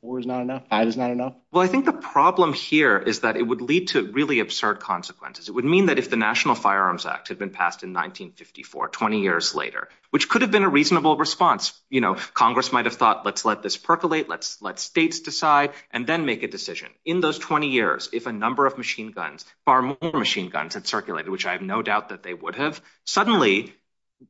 Four is not enough? Five is not enough? Well, I think the problem here is that it would lead to really absurd consequences. It would mean that if the National Firearms Act had been passed in 1954, 20 years later, which could have been a reasonable response. You know, Congress might have thought, let's let this percolate, let's let states decide, and then make a decision. In those 20 years, if a number of machine guns, far more machine guns had circulated, which I have no doubt that they would have, suddenly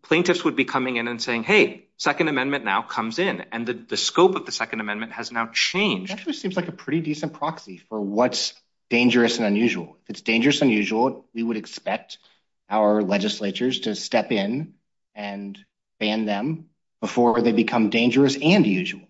plaintiffs would be coming in and saying, hey, Second Amendment now comes in. And the scope of the Second Amendment has now changed. It actually seems like a pretty decent proxy for what's dangerous and unusual. If it's dangerous and unusual, we would expect our legislatures to step in and ban them before they become dangerous and unusual.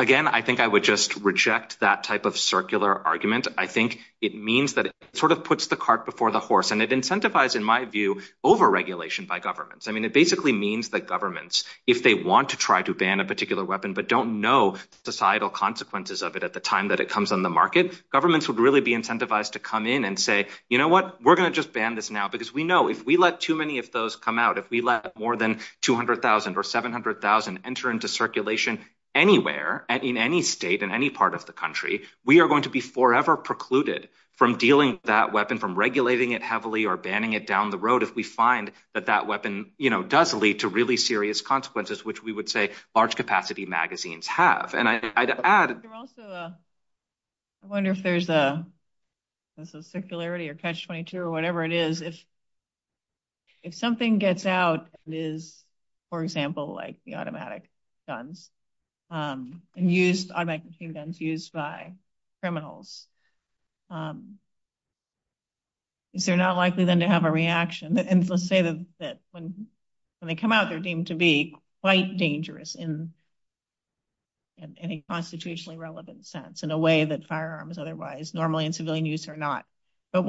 Again, I think I would just reject that type of circular argument. I think it means that it sort of puts the cart before the horse, and it incentivizes, in my view, over-regulation by governments. I mean, it basically means that governments, if they want to try to ban a particular weapon but don't know the societal consequences of it at the time that it comes on the market, governments would really be incentivized to come in and say, you know what, we're going to just ban this now because we know if we let too many of those come out, if we let more than 200,000 or 700,000 enter into circulation anywhere, in any state in any part of the country, we are going to be forever precluded from dealing with that weapon, from regulating it heavily, or banning it down the road if we find that that weapon, you know, does lead to really serious consequences, which we would say large-capacity magazines have. And I'd add... There's also a... I wonder if there's a... There's a circularity or catch-22 or whatever it is. If... If something gets out and is, for example, like the automatic guns, and used... Automatic machine guns used by criminals, is there not likely then to have a reaction? And let's say that when they come out, they're deemed to be quite dangerous in any constitutionally relevant sense, in a way that firearms otherwise, normally in civilian use are not. to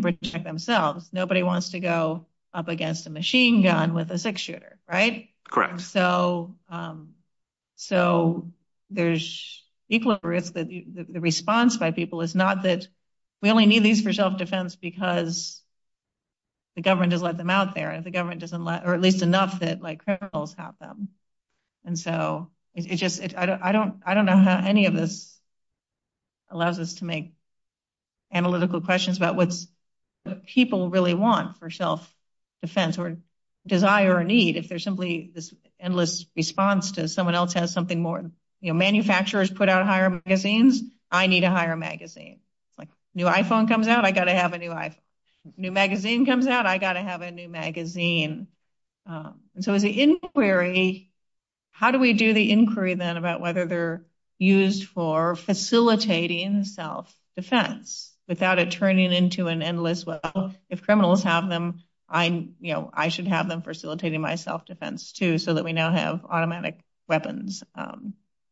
protect themselves. Nobody wants to go up against a machine or a gun or a machine gun or a machine gun or a machine gun or a machine gun or a machine gun with a six-shooter. Right? Correct. So... So, there's... The response by people is not that we only need these for self-defense because the government doesn't let them out there and the government doesn't let... Or at least enough that criminals have them. And so, it's just... I don't know how any of this allows us to make analytical questions about what the people really want for self-defense or desire or need if there's simply this endless response to someone else has something more... You know, manufacturers put out higher magazines. I need a higher magazine. Like, new iPhone comes out, I got to have a new iPhone. New magazine comes out, I got to have a new magazine. And so, the inquiry... How do we do the inquiry then about whether they're used for facilitating self-defense without it turning into an endless... Well, if criminals have them, I... You know, I should have them facilitating my self-defense, too, so that we now have automatic weapons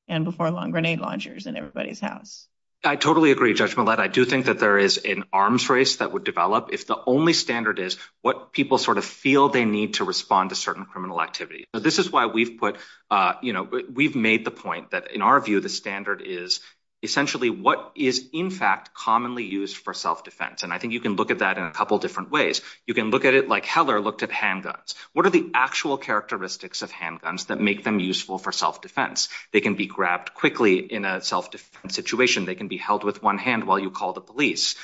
and before-long grenade launchers in everybody's house. I totally agree, Judge Millett. I do think that there is an arms race that would develop if the only standard is what people sort of feel they need to respond to certain criminal activity. So, this is why we've put... You know, we've made the point that, in our view, the standard is essentially what is, in fact, commonly used for self-defense. And I think you can look at that in a couple different ways. You can look at it like Heller looked at handguns. What are the actual characteristics of handguns that make them useful for self-defense? They can be grabbed quickly in a self-defense situation. They can be held with one hand while you call the police.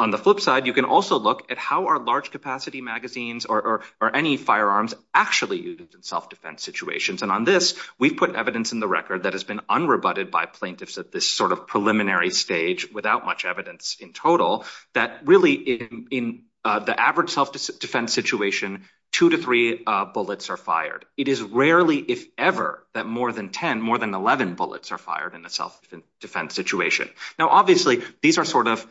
On the flip side, you can also look at how are large-capacity magazines or any firearms actually used in self-defense situations. And on this, we've put evidence in the record that has been unrebutted by plaintiffs at this sort of preliminary stage without much evidence in total that really in the average self-defense situation, two to three bullets are fired. It is rarely, if ever, that more than 10, more than 11 bullets are fired in a self-defense situation. Now obviously, these are sort of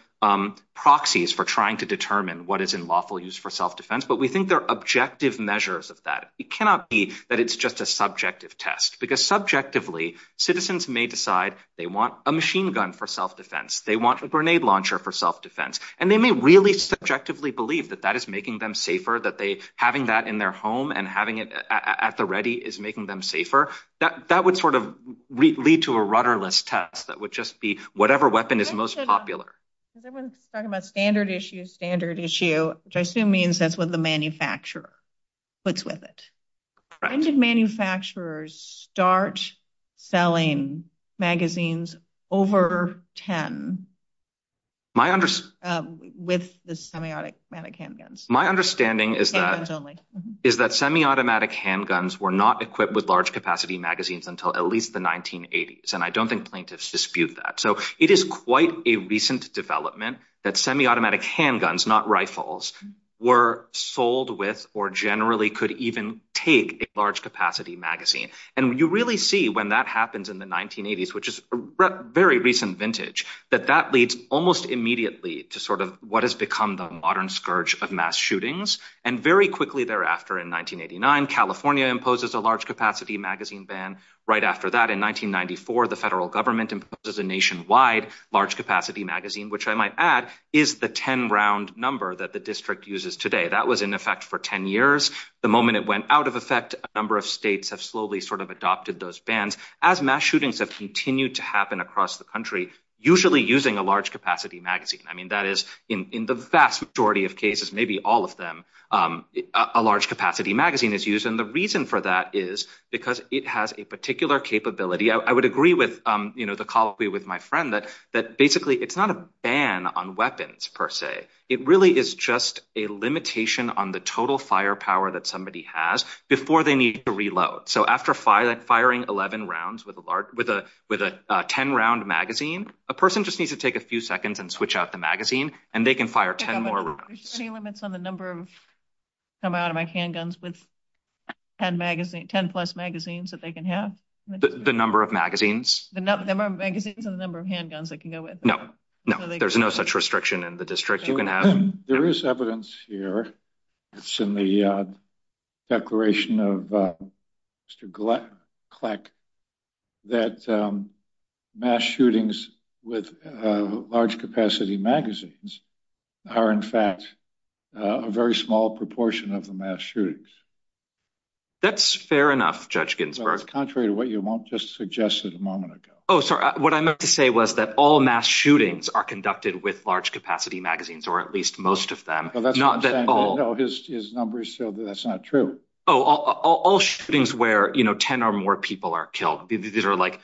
proxies for trying to determine what is in lawful use for self-defense. But we think they're objective measures of that. It cannot be that it's just a subjective test because subjectively, citizens may decide they want a machine gun for self-defense. They want a grenade launcher for self-defense. And they may really subjectively believe that that is making them safer, that having that in their home and having it at the ready is making them safer. That would sort of lead to a rudderless test that would just be whatever weapon is most popular. Everyone's talking about standard issues, standard issue, which I assume means that's what the manufacturer puts with it. Right. When did manufacturers start selling magazines over 10? With the semiautomatic handguns. My understanding is that semiautomatic handguns were not equipped with large-capacity magazines until at least the 1980s. And I don't think plaintiffs dispute that. So it is quite a recent development that semiautomatic handguns, not rifles, were sold with or generally could even take a large-capacity magazine. And you really see when that happens in the 1980s, which is very recent vintage, that that leads almost immediately to sort of what has become the modern scourge of mass shootings. And very quickly thereafter, in 1989, California imposes a large-capacity magazine ban. Right after that, in 1994, the federal government imposes a nationwide large-capacity magazine, which I might add is the 10-round number that the district uses today. That was in effect for 10 years. The moment it went out of effect, a number of states have slowly sort of adopted those bans. As mass shootings have continued to happen across the country, usually using a large-capacity magazine. I mean, that is in the vast majority of cases, maybe all of them, a large-capacity magazine is used. And the reason for that is because it has a particular capability. I would agree with, you know, the colloquy with my friend that basically it's not a ban on weapons, per se. It really is just a limitation on the total firepower that somebody has before they need to reload. So after firing 11 rounds with a 10-round magazine, a person just needs to take a few seconds and switch out the magazine, and they can fire 10 more rounds. Are there any limits on the number of handguns with 10-plus magazines that they can have? The number of magazines? The number of magazines and the number of handguns they can go with. No. There's no such restriction in the district. There is evidence here. It's in the declaration of Mr. Kleck that mass shootings with large-capacity magazines are, in fact, a very small proportion of the mass shootings. That's fair enough, Judge Ginsburg. That's contrary to what you just suggested a moment ago. Oh, sorry. What I meant to say was that all mass shootings are conducted with large-capacity magazines, or at least most of them, not that all... No, his numbers show that that's not true. Oh, all shootings where, you know, 10 or more people are killed. These are, like,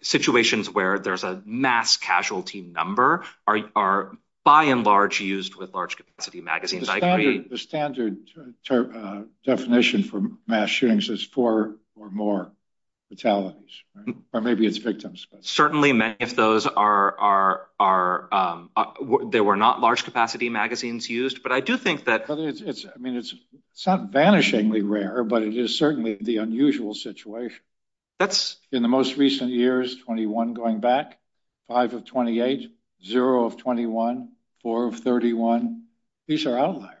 situations where there's a mass casualty number are, by and large, used with large-capacity magazines. The standard definition for mass shootings is four or more fatalities, or maybe it's victims. Certainly, if those are... They were not large-capacity magazines used, but I do think that... But it's, I mean, it's not vanishingly rare, but it is certainly the unusual situation. That's... In the most recent years, 21 going back, five of 28, zero of 21, four of 31. These are outliers.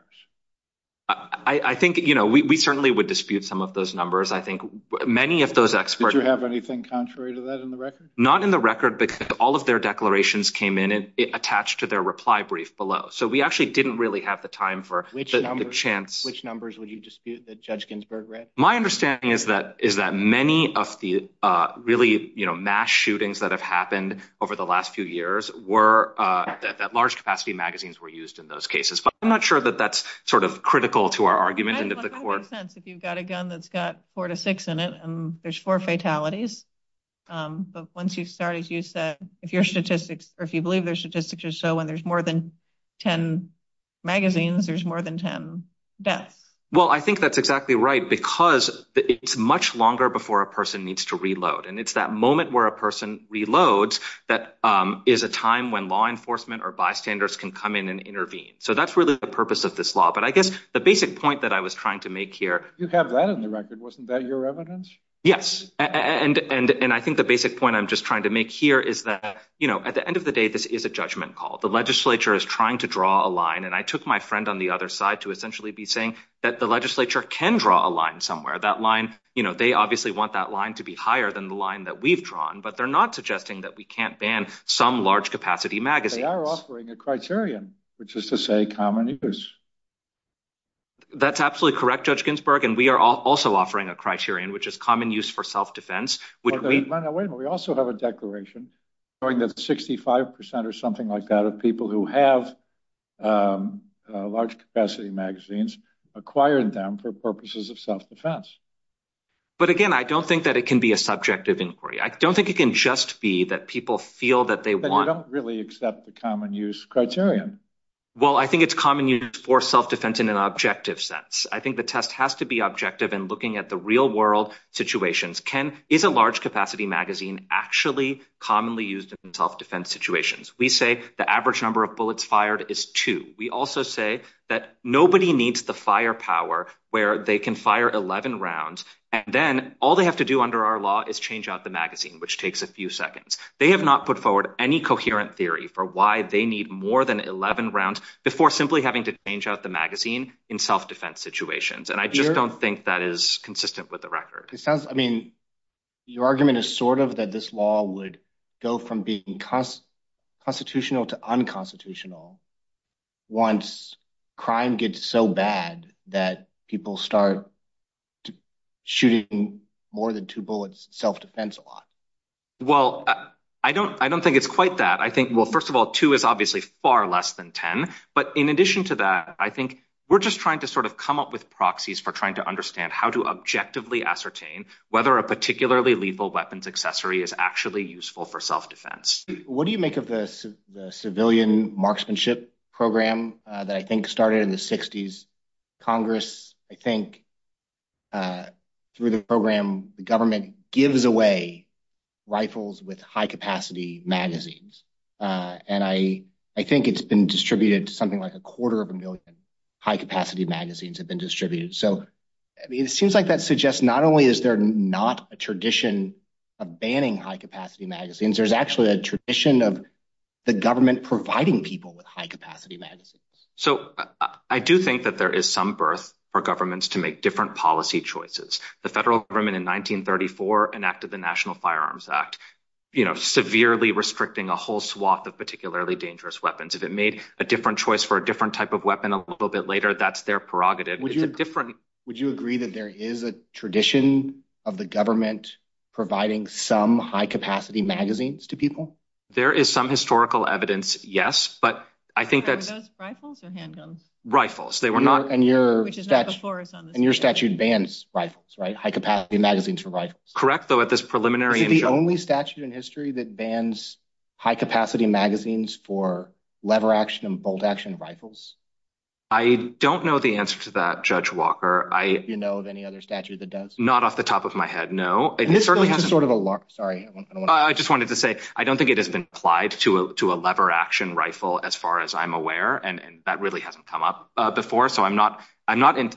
I think, you know, we certainly would dispute some of those numbers. I think many of those experts... Did you have anything contrary to that in the record? Not in the record because all of their declarations came in attached to their reply brief below, so we actually didn't really have the time for... Which numbers would you dispute that Judge Ginsburg read? My understanding is that many of the really, you know, mass shootings that have happened over the last few years were that large-capacity magazines were used in those cases, but I'm not sure that that's sort of critical to our argument in the court. It makes sense if you've got a gun that's got four to six in it and there's four fatalities, but once you start, as you said, if your statistics... Or if you believe their statistics are so when there's more than 10 magazines, there's more than 10 deaths. Well, I think that's exactly right because it's much longer before a person needs to reload, and it's that moment where a person reloads that is a time when law enforcement or bystanders can come in and intervene, so that's really the purpose of this law, but I guess the basic point that I was trying to make here... You've had that in the record. Wasn't that your evidence? Yes, and I think the basic point I'm just trying to make here is that, you know, at the end of the day, this is a judgment call. The legislature is trying to draw a line, and I took my friend on the other side to essentially be saying that the legislature can draw a line somewhere. That line, you know, they obviously want that line to be higher than the line that we've drawn, but they're not suggesting that we can't ban some large-capacity magazines. They are offering a criterion, which is to say common use. That's absolutely correct, Judge Ginsburg, and we are also offering a criterion, which is common use for self-defense. Wait a minute. We also have a declaration showing that 65% or something like that of people who have large-capacity magazines acquired them for purposes of self-defense. But again, I don't think that it can be a subjective inquiry. I don't think it can just be that people feel that they want... But they don't really accept the common-use criterion. Well, I think it's common use for self-defense in an objective sense. I think the test has to be objective in looking at the real-world situations. Is a large-capacity magazine actually commonly used in self-defense situations? We say the average number of bullets fired is two. We also say that nobody needs the firepower where they can fire 11 rounds, and then all they have to do under our law is change out the magazine, which takes a few seconds. They have not put forward any coherent theory for why they need more than 11 rounds before simply having to change out the magazine in self-defense situations. And I just don't think that is consistent with the record. It sounds... I mean, your argument is sort of that this law would go from being constitutional to unconstitutional once crime gets so bad that people start shooting more than two bullets in self-defense a lot. Well, I don't think it's quite that. I think, well, first of all, two is obviously far less than 10. But in addition to that, I think we're just trying to sort of come up with proxies for trying to understand how to objectively ascertain whether a particularly lethal weapons accessory is actually useful for self-defense. What do you make of the civilian marksmanship program that I think started in the 60s? Congress, I think, through the program, the government gives away rifles with high-capacity magazines. And I think it's been distributed to something like a quarter of a million high-capacity magazines have been distributed. So it seems like that suggests not only is there not a tradition of banning high-capacity magazines, there's actually a tradition of the government providing people with high-capacity magazines. So I do think that there is some birth for governments to make different policy choices. The federal government in 1934 enacted the National Firearms Act, you know, severely restricting a whole swath of particularly dangerous weapons. If it made a different choice for a different type of weapon a little bit later, that's their prerogative. Would you agree that there is a tradition of the government providing some high-capacity magazines to people? There is some historical evidence, yes, but I think that... Are those rifles or handguns? Rifles. And your statute bans rifles, right? High-capacity magazines for rifles. Correct, though, at this preliminary... Is it the only statute in history that bans high-capacity magazines for lever-action and bolt-action rifles? I don't know the answer to that, Judge Walker. Do you know of any other statute that does? Not off the top of my head, no. And this is sort of a... Sorry, I just wanted to say, I don't think it has been applied to a lever-action rifle, as far as I'm aware, and that really hasn't come up before, so I'm not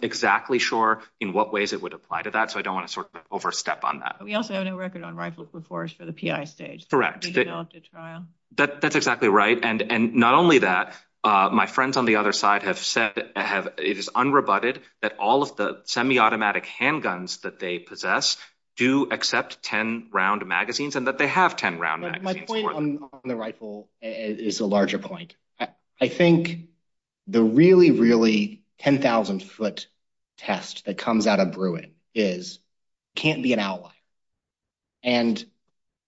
exactly sure in what ways it would apply to that, so I don't want to sort of overstep on that. We also had a record on rifle reports for the PI stage. Correct. The adopted trial. That's exactly right, and not only that, my friends on the other side have said that it is unrebutted that all of the semi-automatic handguns that they possess do accept 10-round magazines and that they have 10-round magazines. My point on the rifle is a larger point. I think the really, really 10,000-foot test that comes out of Bruin can't be an outlier, and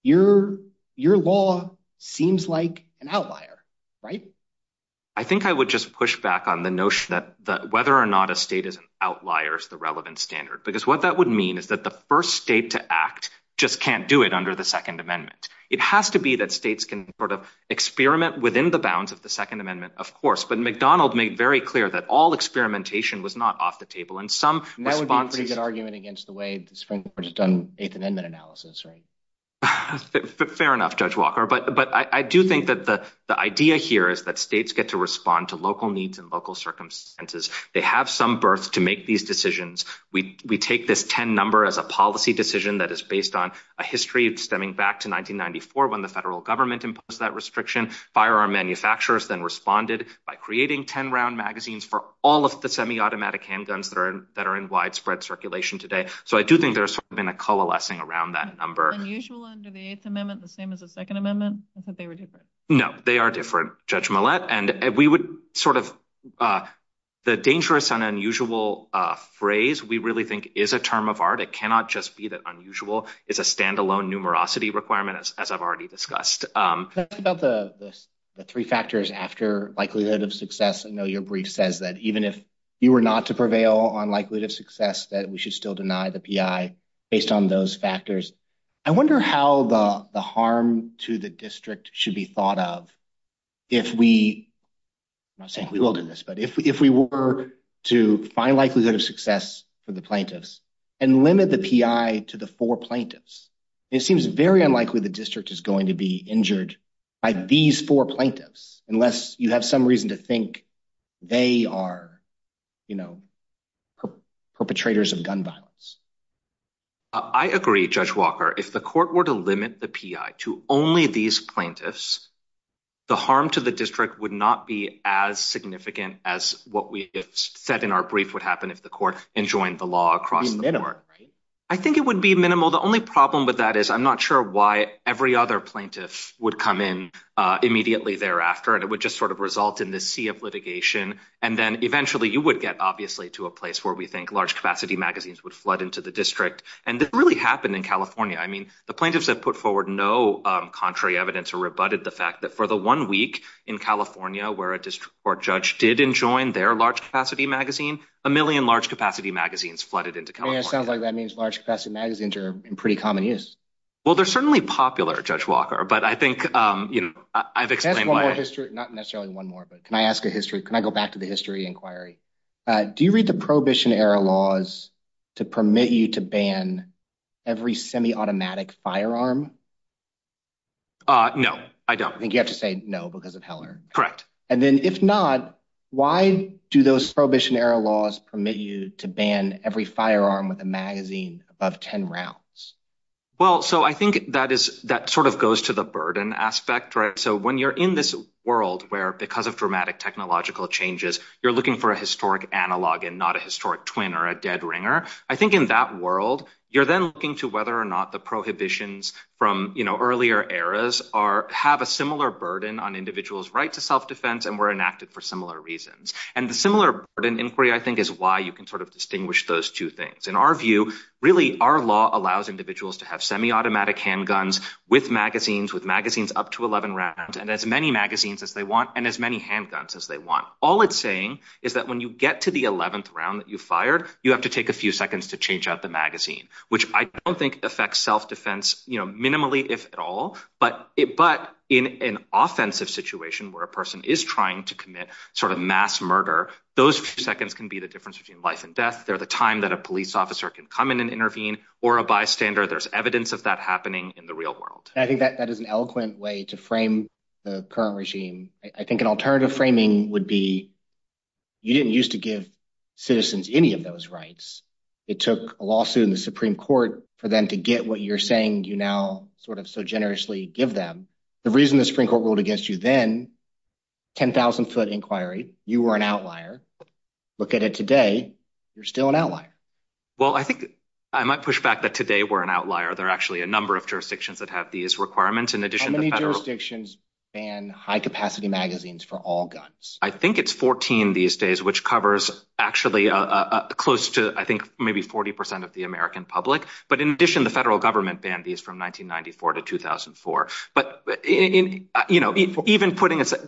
your law seems like an outlier, right? I think I would just push back on the notion that whether or not a state is an outlier is the relevant standard, because what that would mean is that the first state to act just can't do it under the Second Amendment. It has to be that states can sort of experiment within the bounds of the Second Amendment, of course, but McDonald made very clear that all experimentation was not off the table, and some responses... That would be a pretty good argument against the way the Supreme Court has done eighth amendment analysis, right? Fair enough, Judge Walker, but I do think that the idea here is that states get to respond to local needs and local circumstances. They have some birth to make these decisions. We take this 10 number as a policy decision that is based on a history stemming back to 1994 when the federal government imposed that restriction. Firearm manufacturers then responded by creating 10-round magazines for all of the semiautomatic handguns that are in widespread circulation today, so I do think there's been a coalescing around that number. Unusual under the Eighth Amendment, the same as the Second Amendment? I thought they were different. No, they are different, Judge Millett, and we would sort of... The dangerous and unusual phrase, we really think, is a term of art. It cannot just be that unusual. It's a stand-alone numerosity requirement, as I've already discussed. That's about the three factors after likelihood of success. I know your brief says that even if you were not to prevail on likelihood of success, that we should still deny the PI based on those factors. I wonder how the harm to the district should be thought of if we... I'm not saying we will do this, but if we were to find likelihood of success for the plaintiffs and limit the PI to the four plaintiffs, it seems very unlikely the district is going to be injured by these four plaintiffs unless you have some reason to think they are, you know, perpetrators of gun violence. I agree, Judge Walker. If the court were to limit the PI to only these plaintiffs, the harm to the district would not be as significant as what we said in our brief would happen if the court enjoined the law across the board. It would be minimal, right? I think it would be minimal. The only problem with that is I'm not sure why every other plaintiff would come in immediately thereafter and it would just sort of result in this sea of litigation. And then, eventually, you would get, obviously, to a place where we think large-capacity magazines would flood into the district. And it really happened in California. I mean, the plaintiffs have put forward no contrary evidence or rebutted the fact that for the one week in California where a district court judge did enjoin their large-capacity magazine, a million large-capacity magazines flooded into California. Yeah, it sounds like that means large-capacity magazines are in pretty common use. Well, they're certainly popular, Judge Walker, but I think, you know, I've explained why... Can I ask one more? Not necessarily one more, but can I ask a history... Can I go back to the history inquiry? Do you read the Prohibition Era laws to permit you to ban every semi-automatic firearm? No, I don't. I think you have to say no because of Heller. Correct. And then, if not, why do those Prohibition Era laws permit you to ban every firearm with a magazine above 10 rounds? Well, so I think that is... That sort of goes to the burden aspect. So when you're in this world where because of dramatic technological changes, you're looking for a historic analog and not a historic twin or a dead ringer, I think in that world, you're then looking to whether or not the prohibitions from, you know, earlier eras have a similar burden on individuals' right to self-defense and were enacted for similar reasons. And the similar burden inquiry, I think, is why you can sort of distinguish those two things. In our view, really, our law allows individuals to have semi-automatic handguns with magazines, with magazines up to 11 rounds, and as many magazines as they want and as many handguns as they want. All it's saying is that when you get to the 11th round that you fired, you have to take a few seconds to change out the magazine, which I don't think affects self-defense, you know, minimally, if at all, but in an offensive situation where a person is trying to commit sort of mass murder, those few seconds can be the difference between life and death. They're the time that a police officer can come in and intervene, or a bystander. There's evidence of that happening in the real world. I think that is an eloquent way to frame the current regime. I think an alternative framing would be you didn't used to give citizens any of those rights. It took a lawsuit in the Supreme Court for them to get what you're saying you now sort of so generously give them. The reason the Supreme Court ruled against you then, 10,000-foot inquiry, you were an outlier. Look at it today, you're still an outlier. Well, I think I might push back that today we're an outlier. There are actually a number of jurisdictions that have these requirements in addition to federal. How many jurisdictions ban high-capacity magazines for all guns? I think it's 14 these days, which covers actually close to, I think, maybe 40% of the American public, but in addition, the federal government banned these from 1994 to 2004.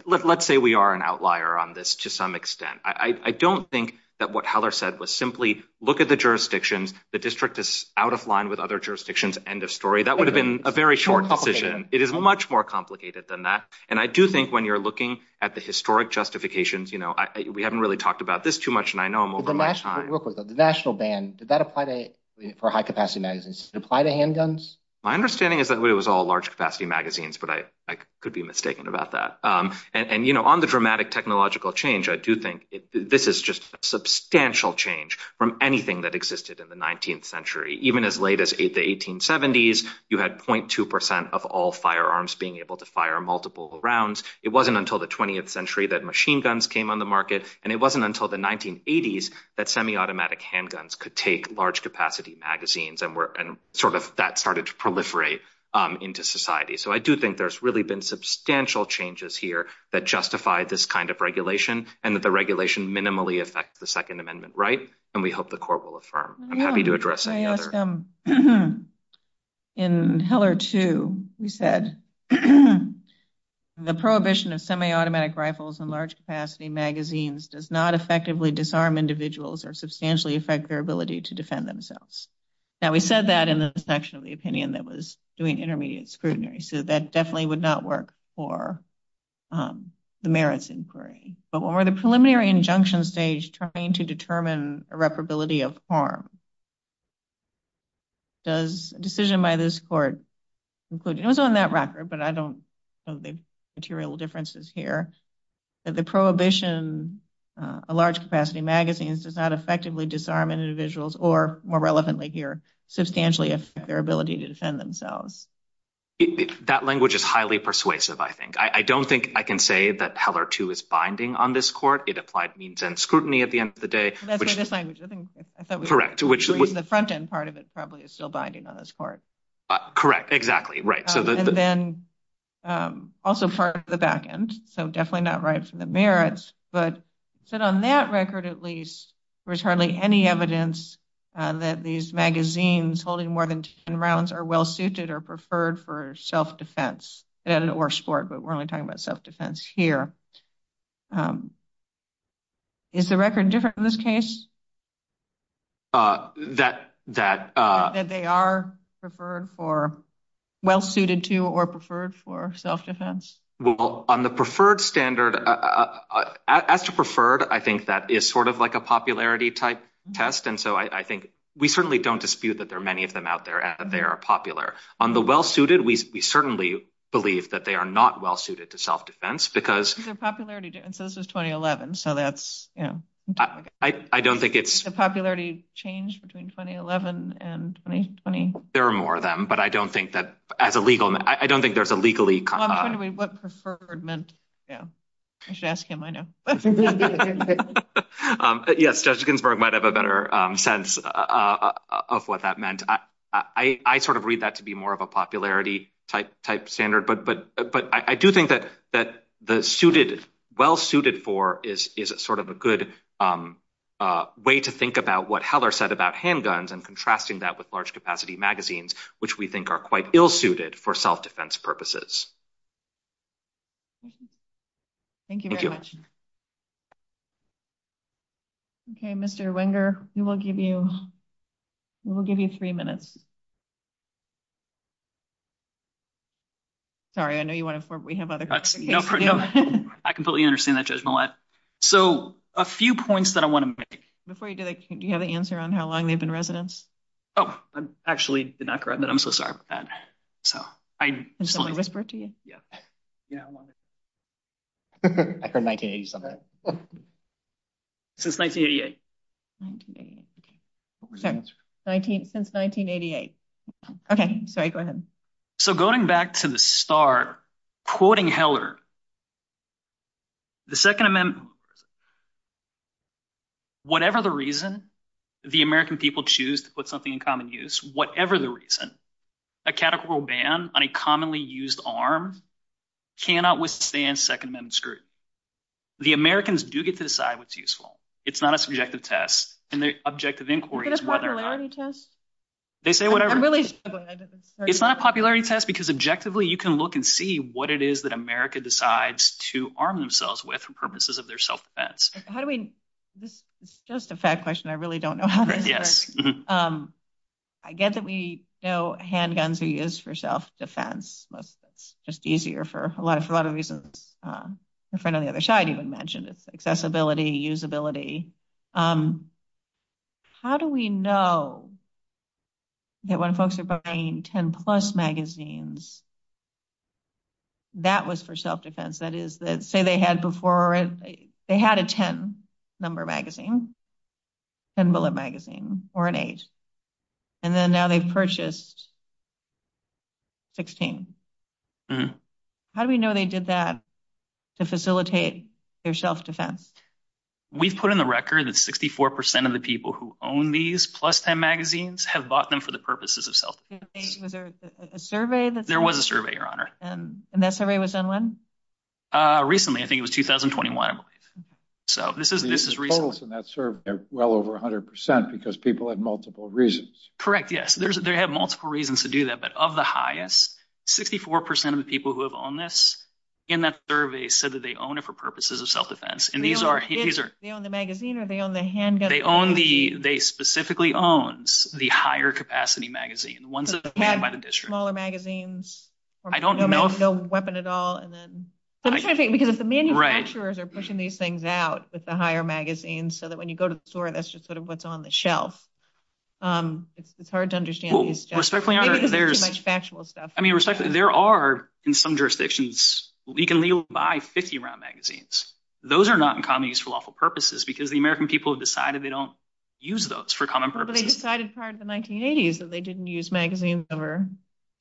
Let's say we are an outlier on this to some extent. I don't think that what Heller said was simply look at the jurisdictions, the district is out of line with other jurisdictions, end of story. That would have been a very short position. It is much more complicated than that, and I do think when you're looking at the historic justifications, we haven't really talked about this too much and I know I'm over my time. The national ban, Did it apply to handguns? My understanding is that it was all large-capacity magazines. I could be mistaken about that. On the dramatic technological change, I do think this is just a substantial change from anything that existed in the 19th century. Even as late as the 1870s, you had 0.2% of all firearms being able to fire multiple rounds. It wasn't until the 20th century that machine guns came on the market, and it wasn't until the 1980s that semi-automatic handguns could take large-capacity magazines and that started to proliferate into society. So I do think there's really been substantial changes here that justify this kind of regulation and that the regulation minimally affects the Second Amendment right, and we hope the Corps will affirm. I'm happy to address any others. In Hiller 2, we said, The prohibition of semi-automatic rifles and large-capacity magazines does not effectively disarm individuals or substantially affect their ability to defend themselves. Now, we said that in the section of the opinion that was doing the intermediate scrutiny, so that definitely would not work for the merits inquiry. But when we're at the preliminary injunction stage trying to determine irreparability of harm, does a decision by this court conclude, it was on that record, but I don't know the material differences here, that the prohibition of large-capacity magazines does not effectively disarm individuals or, more relevantly here, substantially affect their ability to defend themselves. That language is highly persuasive, I think. I don't think I can say that Hiller 2 is binding on this court. It applied means-end scrutiny at the end of the day. That's in this language. Correct. The front-end part of it probably is still binding on this court. Correct, exactly, right. And then, also for the back-end, so definitely not right for the merits, but on that record, at least, there's hardly any evidence that these magazines holding more than 10 rounds are well-suited or preferred for self-defense, and or sport, but we're only talking about self-defense here. Is the record different in this case? That they are well-suited to or preferred for self-defense? Well, on the preferred standard, as to preferred, I think that is sort of like a popularity-type test, and so I think, we certainly don't dispute that there are many of them out there, and they are popular. On the well-suited, we certainly believe that they are not well-suited to self-defense, because- Is their popularity different? So this is 2011, so that's, you know- I don't think it's- Has the popularity changed between 2011 and 2020? There are more of them, but I don't think that, as a legal, I don't think there's a legally- Well, I'm wondering what preferred meant. Yeah. I should ask him, I know. Yes, Jessica might have a better sense of what that meant. I sort of read that to be more of a popularity-type standard, but I do think that the well-suited for is sort of a good way to think about what Heller said about handguns and contrasting that with large-capacity magazines, which we think are quite ill-suited for self-defense purposes. Thank you very much. Okay, Mr. Wenger, we will give you three minutes. Sorry, I know you want to- We have other questions. No, I completely understand that, Judge Millett. So, a few points that I want to make- Before you do that, do you have an answer on how long they've been residents? Oh, I actually did not correct that. I'm so sorry about that. So, I just want to- Can someone whisper it to you? Yeah, I want to- I heard 1987. Since 1988. Since 1988. Okay, sorry, go ahead. So, going back to the start, quoting Heller, whatever the reason, the American people choose to put something in common use, whatever the reason, a categorical ban on a commonly used arm cannot withstand Second Amendment scrutiny. The Americans do get to decide what's useful. It's not a subjective test, and the objective inquiry is whether- Is it a popularity test? They say whatever- I'm really- It's not a popularity test because objectively you can look and see what it is that America decides to arm themselves with for purposes of their self-defense. How do we- This is just a fact question. I really don't know how to answer this. I get that we know handguns are used for self-defense. It's just easier for a lot of reasons. My friend on the other side even mentioned it. Accessibility, usability. How do we know that when folks are buying 10-plus magazines, that was for self-defense? That is, say they had before, they had a 10-number magazine, 10-bullet magazine, or an eight, and then now they've purchased 16. How do we know they did that to facilitate their self-defense? We've put in the record that 64% of the people who own these plus-10 magazines have bought them for the purposes of self-defense. Was there a survey that- There was a survey, Your Honor. And that survey was done when? Recently. I think it was 2021, I believe. The totals in that survey are well over 100% because people have multiple reasons. Correct, yes. They have multiple reasons to do that, but of the highest, 64% of the people who have owned this in that survey said that they own it for purposes of self-defense. And these are- They own the magazine or they own the handgun? They specifically owns the higher-capacity magazine, the ones that are manned by the district. Smaller magazines? I don't know. No weapon at all? Because the manufacturers are pushing these things out with the higher magazines so that when you go to the store, that's just sort of what's on the shelf. It's hard to understand. Respectfully, Your Honor, there's- I think it's too much factual stuff. I mean, respectfully, there are, in some jurisdictions, you can legally buy 50-round magazines. Those are not in common use for lawful purposes because the American people have decided they don't use those for common purposes. But they decided prior to the 1980s that they didn't use magazine number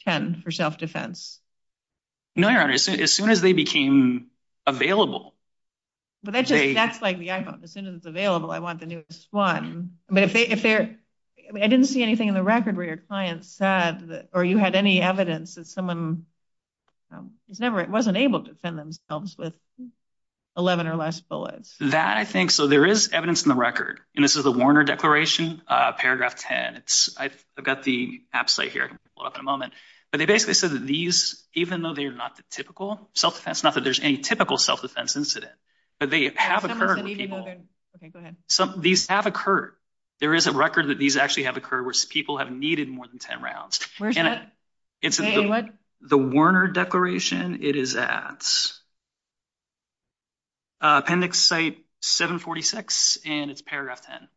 10 for self-defense. No, Your Honor. As soon as they became available- But that's like the iPhone. As soon as it's available, I want the newest one. I didn't see anything in the record where your client said, or you had any evidence, that someone wasn't able to send themselves with 11 or less bullets. That, I think- So there is evidence in the record. And this is the Warner Declaration, paragraph 10. I've got the app site here. I'll pull it up in a moment. But they basically said that these, even though they're not the typical self-defense method, there's any typical self-defense incident. But they have occurred in people- Okay, go ahead. These have occurred. There is a record that these actually have occurred where people have needed more than 10 rounds. Where is that? The Warner Declaration, it is at appendix site 746, and it's paragraph 10.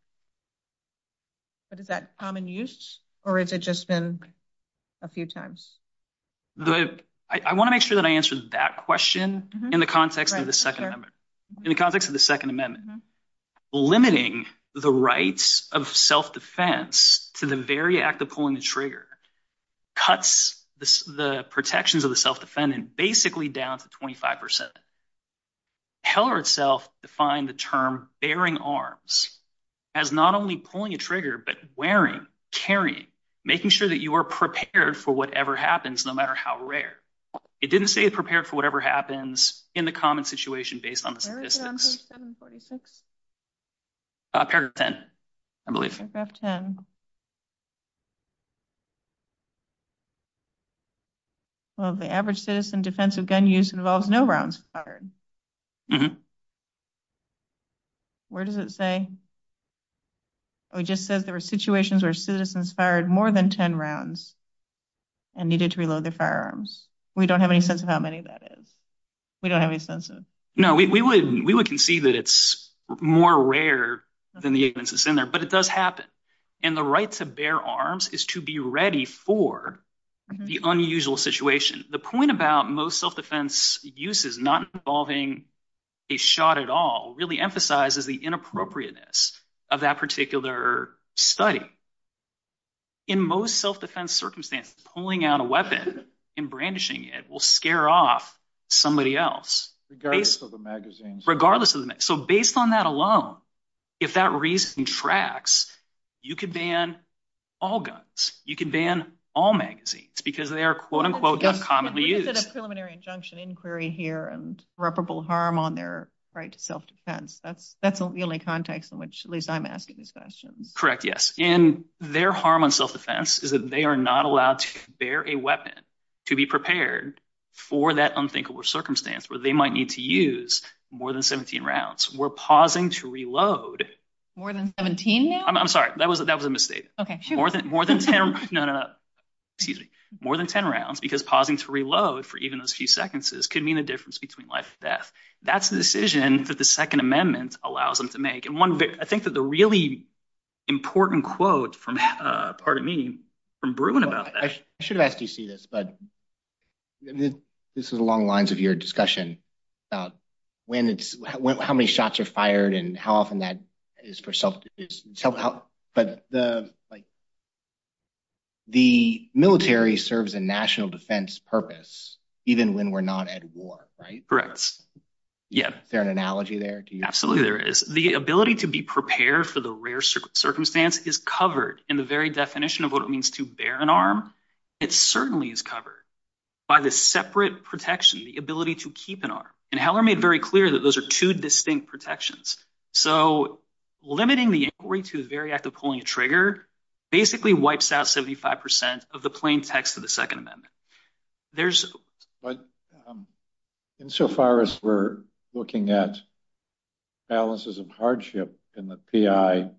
But is that common use? Or has it just been a few times? I want to make sure that I answered that question in the context of the Second Amendment. In the context of the Second Amendment. Limiting the rights of self-defense to the very act of pulling the trigger cuts the protections of the self-defendant basically down to 25%. Heller itself defined the term bearing arms as not only pulling a trigger, but wearing, carrying, making sure that you are prepared for whatever happens, no matter how rare. It didn't say prepared for whatever happens in the common situation based on the statistics. Where is it on page 746? Paragraph 10, I believe. Paragraph 10. Well, the average citizen defensive gun use involves no rounds fired. Where does it say? Oh, it just says there were situations where citizens fired more than 10 rounds and needed to reload their firearms. We don't have any sense of how many that is. We don't have any sense of it. No, we would concede that it's more rare than the evidence that's in there, but it does happen. And the right to bear arms is to be ready for the unusual situation. The point about most self-defense uses not involving a shot at all really emphasizes the inappropriateness of that particular study. In most self-defense circumstances, pulling out a weapon, embrandishing it will scare off somebody else. Regardless of the magazine. Regardless of the magazine. So based on that alone, if that reason tracks, you could ban all guns. You could ban all magazines because they're quote-unquote not commonly used. Is it a preliminary injunction inquiry here and irreparable harm on their right to self-defense? That's the only context in which at least I'm asking this question. Correct, yes. And their harm on self-defense is that they are not allowed to bear a weapon to be prepared for that unthinkable circumstance where they might need to use more than 17 rounds. We're pausing to reload. More than 17 rounds? I'm sorry, that was a mistake. Okay, sure. More than 10, no, no. Excuse me. More than 10 rounds because pausing to reload for even those few seconds could mean a difference between life and death. That's the decision that the Second Amendment allows them to make. And I think that the really important quote from Bruno, I should have asked you to see this, but this is along the lines of your discussion about how many shots are fired and how often that is for self-defense. But the military serves a national defense purpose even when we're not at war, right? Correct, yes. Is there an analogy there? Absolutely there is. The ability to be prepared for the rare circumstance is covered in the very definition of what it means to bear an arm. It certainly is covered by the separate protection, the ability to keep an arm. And Heller made very clear that those are two distinct protections. So limiting the inquiry to the very act of pulling a trigger basically wipes out 75% of the plain text of the Second Amendment. But insofar as we're looking at balances of hardship in the PI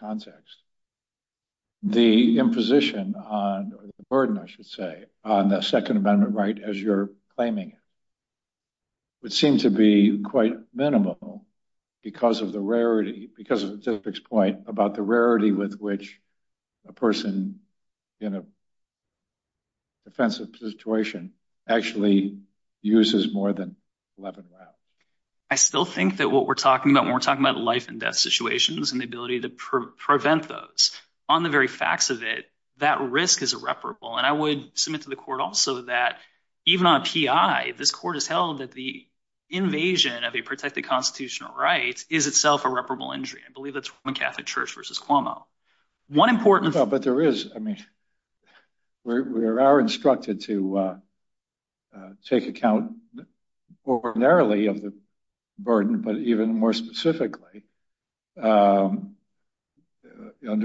context, the imposition on the burden, I should say, on the Second Amendment right as you're claiming it, would seem to be quite minimal because of the rarity, because of Zipfick's point about the rarity with which a person in a defensive situation actually uses more than 11 rounds. I still think that what we're talking about when we're talking about life-and-death situations and the ability to prevent those, on the very facts of it, that risk is irreparable. And I would submit to the Court also that even on PI, this Court has held that the invasion of a protected constitutional right is itself a reparable injury. I believe that's from a Catholic church versus Cuomo. But there is, I mean, we are instructed to take account more narrowly of the burden but even more specifically under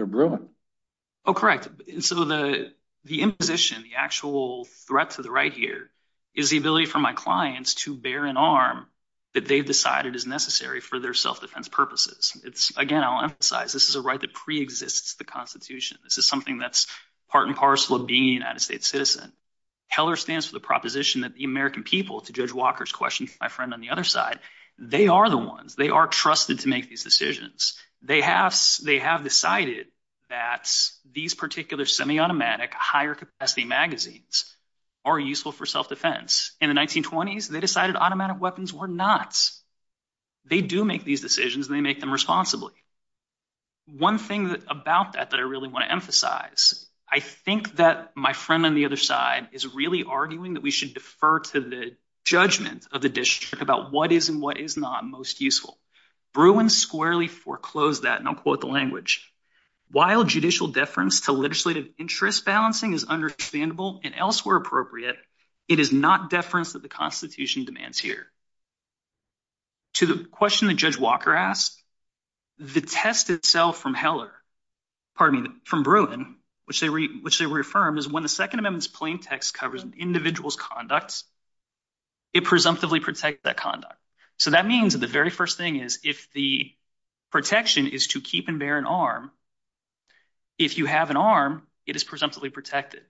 Bruin. Oh, correct. So the imposition, the actual threat to the right here, is the ability for my clients to bear an arm that they've decided is necessary for their self-defense purposes. Again, I'll emphasize, this is a right that pre-exists the Constitution. This is something that's part and parcel of being a United States citizen. Heller stands for the proposition that the American people, to Judge Walker's question, my friend on the other side, they are the ones, they are trusted to make these decisions. They have decided that these particular semi-automatic higher-capacity magazines are useful for self-defense. In the 1920s, they decided automatic weapons were not. They do make these decisions, and they make them responsibly. One thing about that that I really want to emphasize, I think that my friend on the other side is really arguing that we should defer to the judgment of the district about what is and what is not most useful. Bruin squarely foreclosed that, and I'll quote the language. While judicial deference to legislative interest balancing is understandable and elsewhere appropriate, it is not deference that the Constitution demands here. To the question that Judge Walker asked, the test itself from Heller, pardon me, from Bruin, which they reaffirmed, is when the Second Amendment's plain text covers an individual's conducts, it presumptively protects that conduct. So that means that the very first thing is if the protection is to keep and bear an arm, if you have an arm, it is presumptively protected.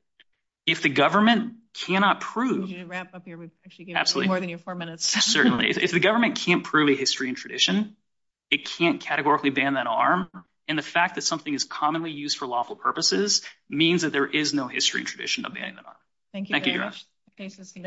If the government cannot prove... If you could wrap up here, we'd actually get more than your four minutes. Certainly. If the government can't prove a history and tradition, it can't categorically ban that arm, and the fact that something is commonly used for lawful purposes means that there is no history and tradition of banning that arm. Thank you. Thank you very much. Thanks, Mr. Bennett.